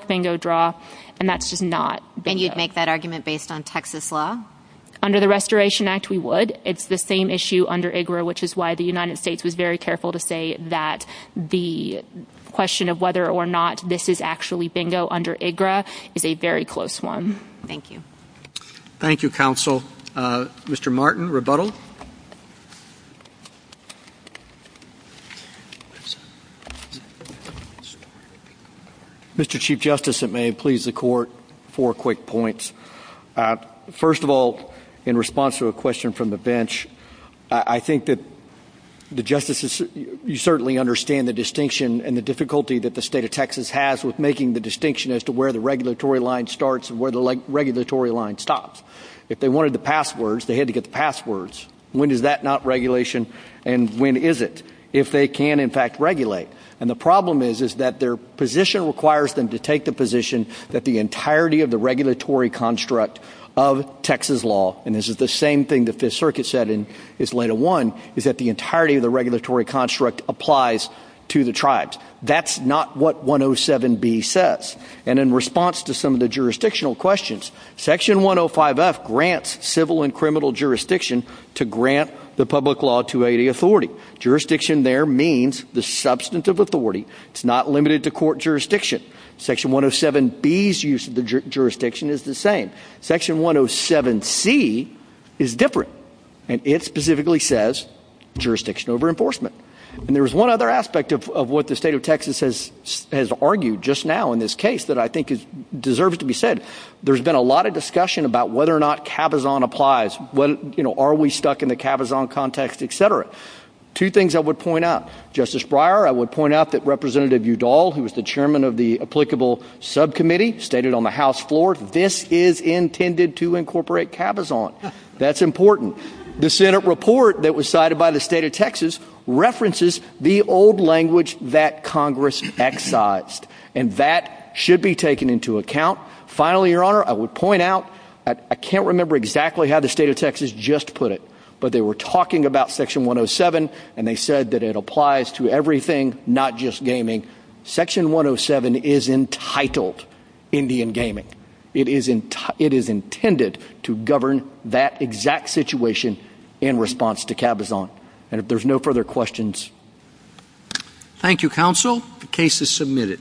bingo draw, and that's just not bingo. And you'd make that argument based on Texas law? Under the Restoration Act, we would. It's the same issue under IGRA, which is why the United States was very careful to say that the question of whether or not this is actually bingo under IGRA is a very close one. Thank you, counsel. Mr. Martin, rebuttal? Mr. Chief Justice, if it may please the Court, four quick points. First of all, in response to a question from the bench, I think that the justices, you certainly understand the distinction and the difficulty that the state of Texas has with making the distinction as to where the regulatory line starts and where the regulatory line stops. If they wanted the passwords, they had to get the passwords. When is that not regulation and when is it? If they can, in fact, regulate. And the problem is that their position requires them to take the position that the entirety of the regulatory construct of Texas law, and this is the same thing the Fifth Circuit said in its letter one, is that the entirety of the regulatory construct applies to the tribes. That's not what 107B says. And in response to some of the jurisdictional questions, Section 105F grants civil and criminal jurisdiction to grant the public law to any authority. Jurisdiction there means the substance of authority. It's not limited to court jurisdiction. Section 107B's use of the jurisdiction is the same. Section 107C is different, and it specifically says jurisdiction over enforcement. And there's one other aspect of what the state of Texas has argued just now in this case that I think deserves to be said. There's been a lot of discussion about whether or not cabazon applies. Are we stuck in the cabazon context, et cetera? Two things I would point out. Justice Breyer, I would point out that Representative Udall, who is the chairman of the applicable subcommittee, stated on the House floor this is intended to incorporate cabazon. That's important. The Senate report that was cited by the state of Texas references the old language that Congress excised, and that should be taken into account. Finally, Your Honor, I would point out I can't remember exactly how the state of Texas just put it, but they were talking about Section 107, and they said that it applies to everything, not just gaming. Section 107 is entitled Indian gaming. It is intended to govern that exact situation in response to cabazon. And if there's no further questions. Thank you, counsel. The case is submitted.